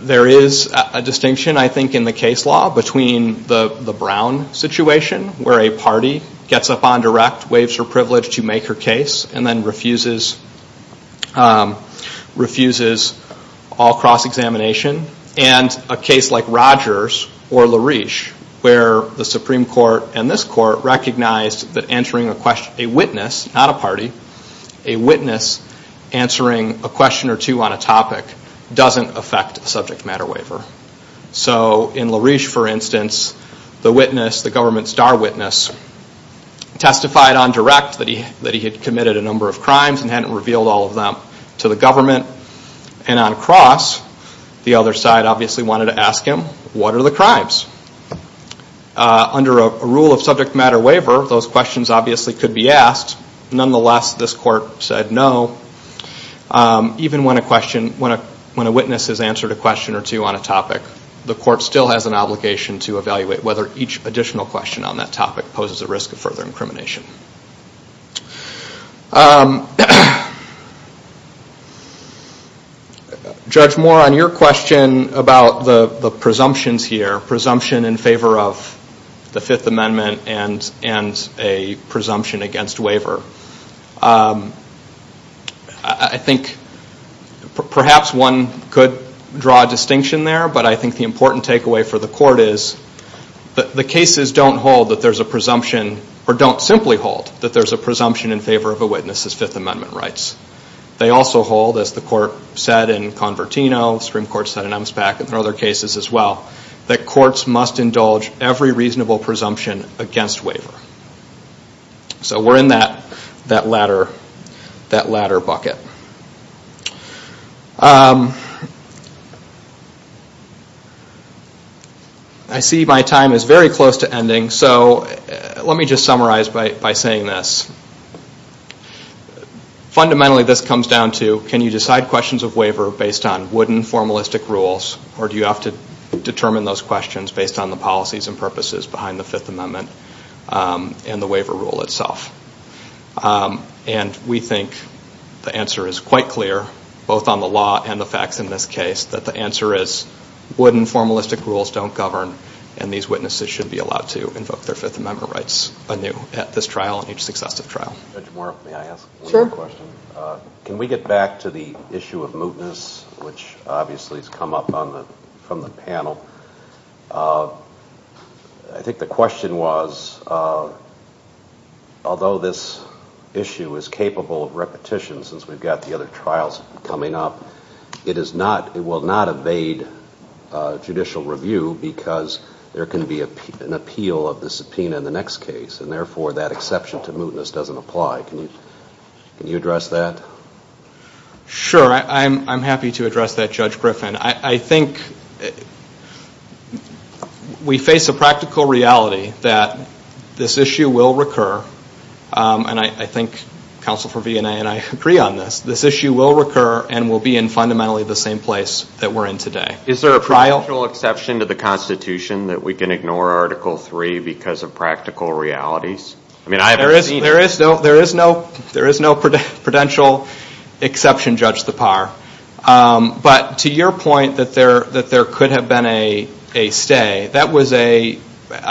there is a distinction, I think, in the case law between the Brown situation, where a party gets up on direct, waives her privilege to make her case, and then refuses all cross-examination, and a case like Rogers or LaRouche, where the Supreme Court and this court recognize that answering a witness, not a party, a witness answering a question or two on a topic doesn't affect a subject matter waiver. So in LaRouche, for instance, the witness, the government star witness, testified on direct that he had committed a number of crimes and hadn't revealed all of them to the government. And on cross, the other side obviously wanted to ask him, what are the crimes? Under a rule of subject matter waiver, those questions obviously could be asked. Nonetheless, this court said no. Even when a witness has answered a question or two on a topic, the court still has an obligation to evaluate whether each additional question on that topic poses a risk of further incrimination. Judge Moore, on your question about the presumptions here, presumption in favor of the Fifth Amendment and a presumption against waiver, I think perhaps one could draw a distinction there, but I think the important takeaway for the court is that the cases don't hold that there's a presumption or don't simply hold that there's a presumption in favor of a witness' Fifth Amendment rights. They also hold, as the court said in Convertino, the Supreme Court said in EMSPAC and other cases as well, that courts must indulge every reasonable presumption against waiver. So we're in that latter bucket. Let me just summarize by saying this. Fundamentally, this comes down to can you decide questions of waiver based on wooden, formalistic rules, or do you have to determine those questions based on the policies and purposes behind the Fifth Amendment and the waiver rule itself? We think the answer is quite clear, both on the law and the facts in this case, but the answer is wooden, formalistic rules don't govern, and these witnesses should be allowed to invoke their Fifth Amendment rights anew at this trial and each successive trial. Can we get back to the issue of mootness, which obviously has come up from the panel? I think the question was, although this issue is capable of repetition since we've got the other trials coming up, it will not evade judicial review because there can be an appeal of the subpoena in the next case, and therefore that exception to mootness doesn't apply. Can you address that? Sure. I'm happy to address that, Judge Griffin. I think we face a practical reality that this issue will recur, and I think Counsel for V&A and I agree on this. This issue will recur and will be in fundamentally the same place that we're in today. Is there a prudential exception to the Constitution that we can ignore Article III because of practical realities? There is no prudential exception, Judge Tappar, but to your point that there could have been a stay, that was, I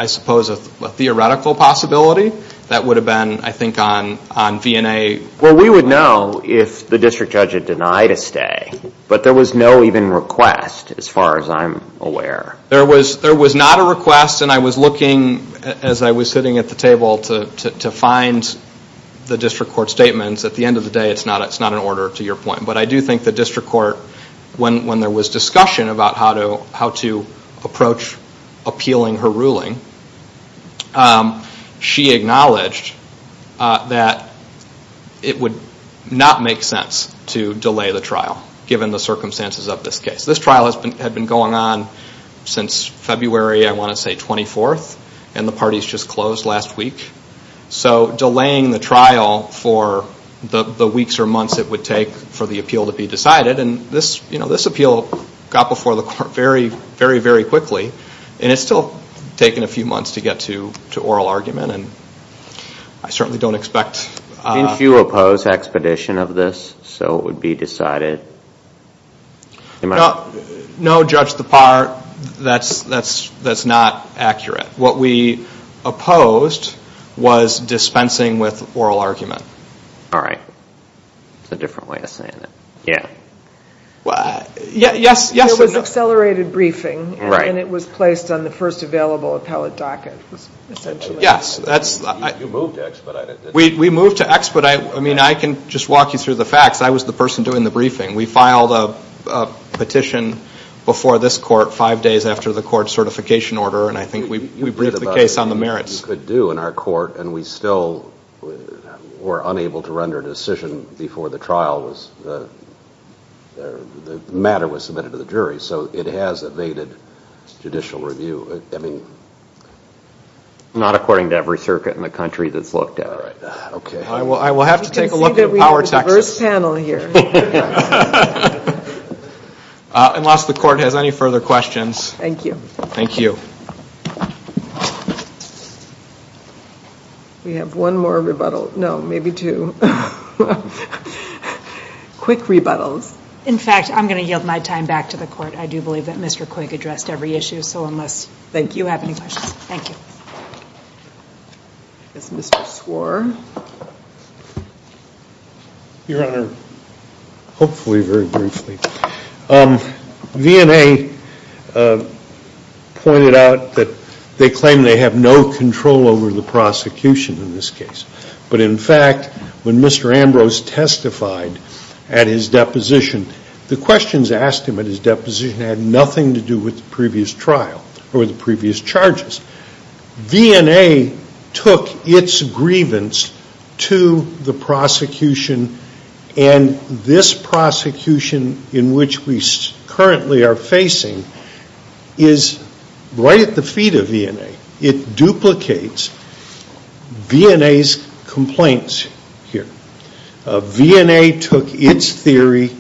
suppose, a theoretical possibility that would have been, I think, on V&A. Well, we would know if the district judge had denied a stay, but there was no even request as far as I'm aware. There was not a request, and I was looking as I was sitting at the table to find the district court statements. At the end of the day, it's not an order, to your point, but I do think the district court, when there was discussion about how to approach appealing her ruling, she acknowledged that it would not make sense to delay the trial, given the circumstances of this case. This trial had been going on since February, I want to say, 24th, and the parties just closed last week, so delaying the trial for the weeks or months it would take for the appeal to be decided, and this appeal got before the court very, very quickly, and it's still taken a few months to get to oral argument, and I certainly don't expect... Didn't you oppose expedition of this so it would be decided? No, Judge Tappar, that's not accurate. What we opposed was dispensing with oral argument. All right. That's a different way of saying it. Yes, there was accelerated briefing, and it was placed on the first available appellate docket. Yes, we moved to expedite. I mean, I can just walk you through the facts. I was the person doing the briefing. We filed a petition before this court five days after the court certification order, and I think we briefed the case on the merits. That's all we could do in our court, and we still were unable to render a decision before the trial was... The matter was submitted to the jury, so it has evaded judicial review. I mean, not according to every circuit in the country that's looked at. Okay. I will have to take a look at our text. We could be the first panel here. Unless the court has any further questions. Thank you. We have one more rebuttal. No, maybe two. Quick rebuttals. In fact, I'm going to yield my time back to the court. I do believe that Mr. Quigg addressed every issue so much. Thank you. You have any questions? Thank you. Mr. Swar? Your Honor, hopefully very briefly. V&A pointed out that they claim they have no control over the prosecution in this case. But, in fact, when Mr. Ambrose testified at his deposition, the questions asked him at his deposition had nothing to do with the previous trial or the previous charges. V&A took its grievance to the prosecution, and this prosecution in which we currently are facing is right at the feet of V&A. It duplicates V&A's complaints here. V&A took its theory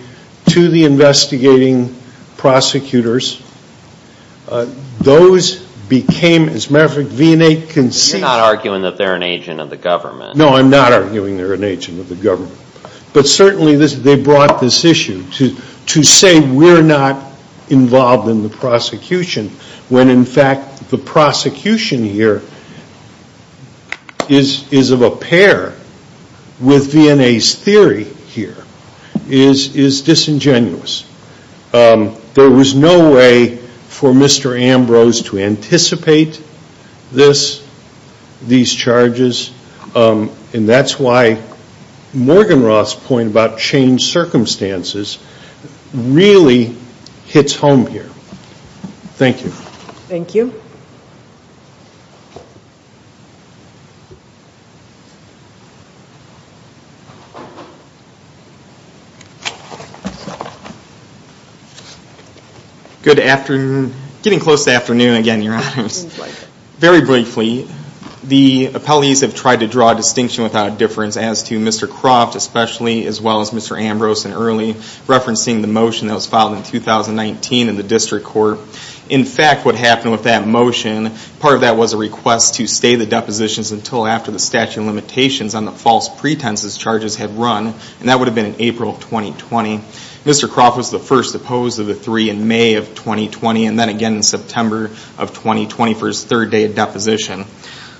to the investigating prosecutors. Those became, as a matter of fact, V&A can see. You're not arguing that they're an agent of the government. No, I'm not arguing they're an agent of the government. But, certainly, they brought this issue to say we're not involved in the prosecution, when, in fact, the prosecution here is of a pair with V&A's theory here. It is disingenuous. There was no way for Mr. Ambrose to anticipate this, these charges, and that's why Morgan Roth's point about changed circumstances really hits home here. Thank you. Thank you. Good afternoon. Getting close to afternoon again, Your Honor. Very briefly, the appellees have tried to draw a distinction without a difference as to Mr. Croft, especially as well as Mr. Ambrose and Earley, referencing the motion that was filed in 2019 in the district court. In fact, what happened with that motion, part of that was a request to stay the depositions until after the statute of limitations on the false pretenses charges had run, and that would have been in April of 2020. Mr. Croft was the first opposed of the three in May of 2020, and then again in September of 2020 for his third day of deposition.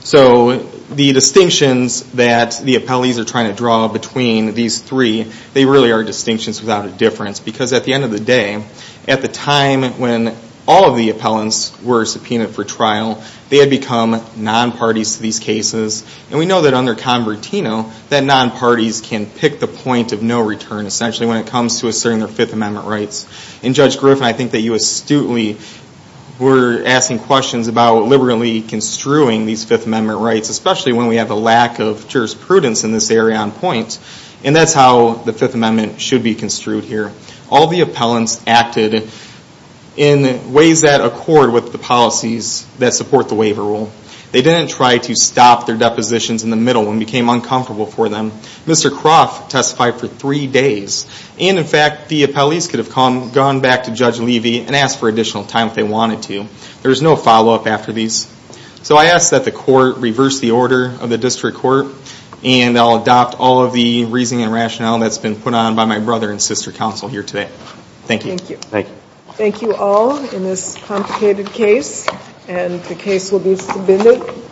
So the distinctions that the appellees are trying to draw between these three, they really are distinctions without a difference, because at the end of the day, at the time when all of the appellants were subpoenaed for trial, they had become non-parties to these cases, and we know that under Convertino that non-parties can pick the point of no return, essentially when it comes to asserting their Fifth Amendment rights. And Judge Griffin, I think that you astutely were asking questions about liberally construing these Fifth Amendment rights, especially when we have a lack of jurisprudence in this area on points, and that's how the Fifth Amendment should be construed here. All the appellants acted in ways that accord with the policies that support the waiver rule. They didn't try to stop their depositions in the middle and became uncomfortable for them. Mr. Cross testified for three days, and in fact the appellees could have gone back to Judge Levy and asked for additional time if they wanted to. There was no follow-up after these. So I ask that the court reverse the order of the district court, and I'll adopt all of the reasoning and rationale that's been put on by my brother and sister counsel here today. Thank you. Thank you. Thank you all in this complicated case, and the case will be submitted.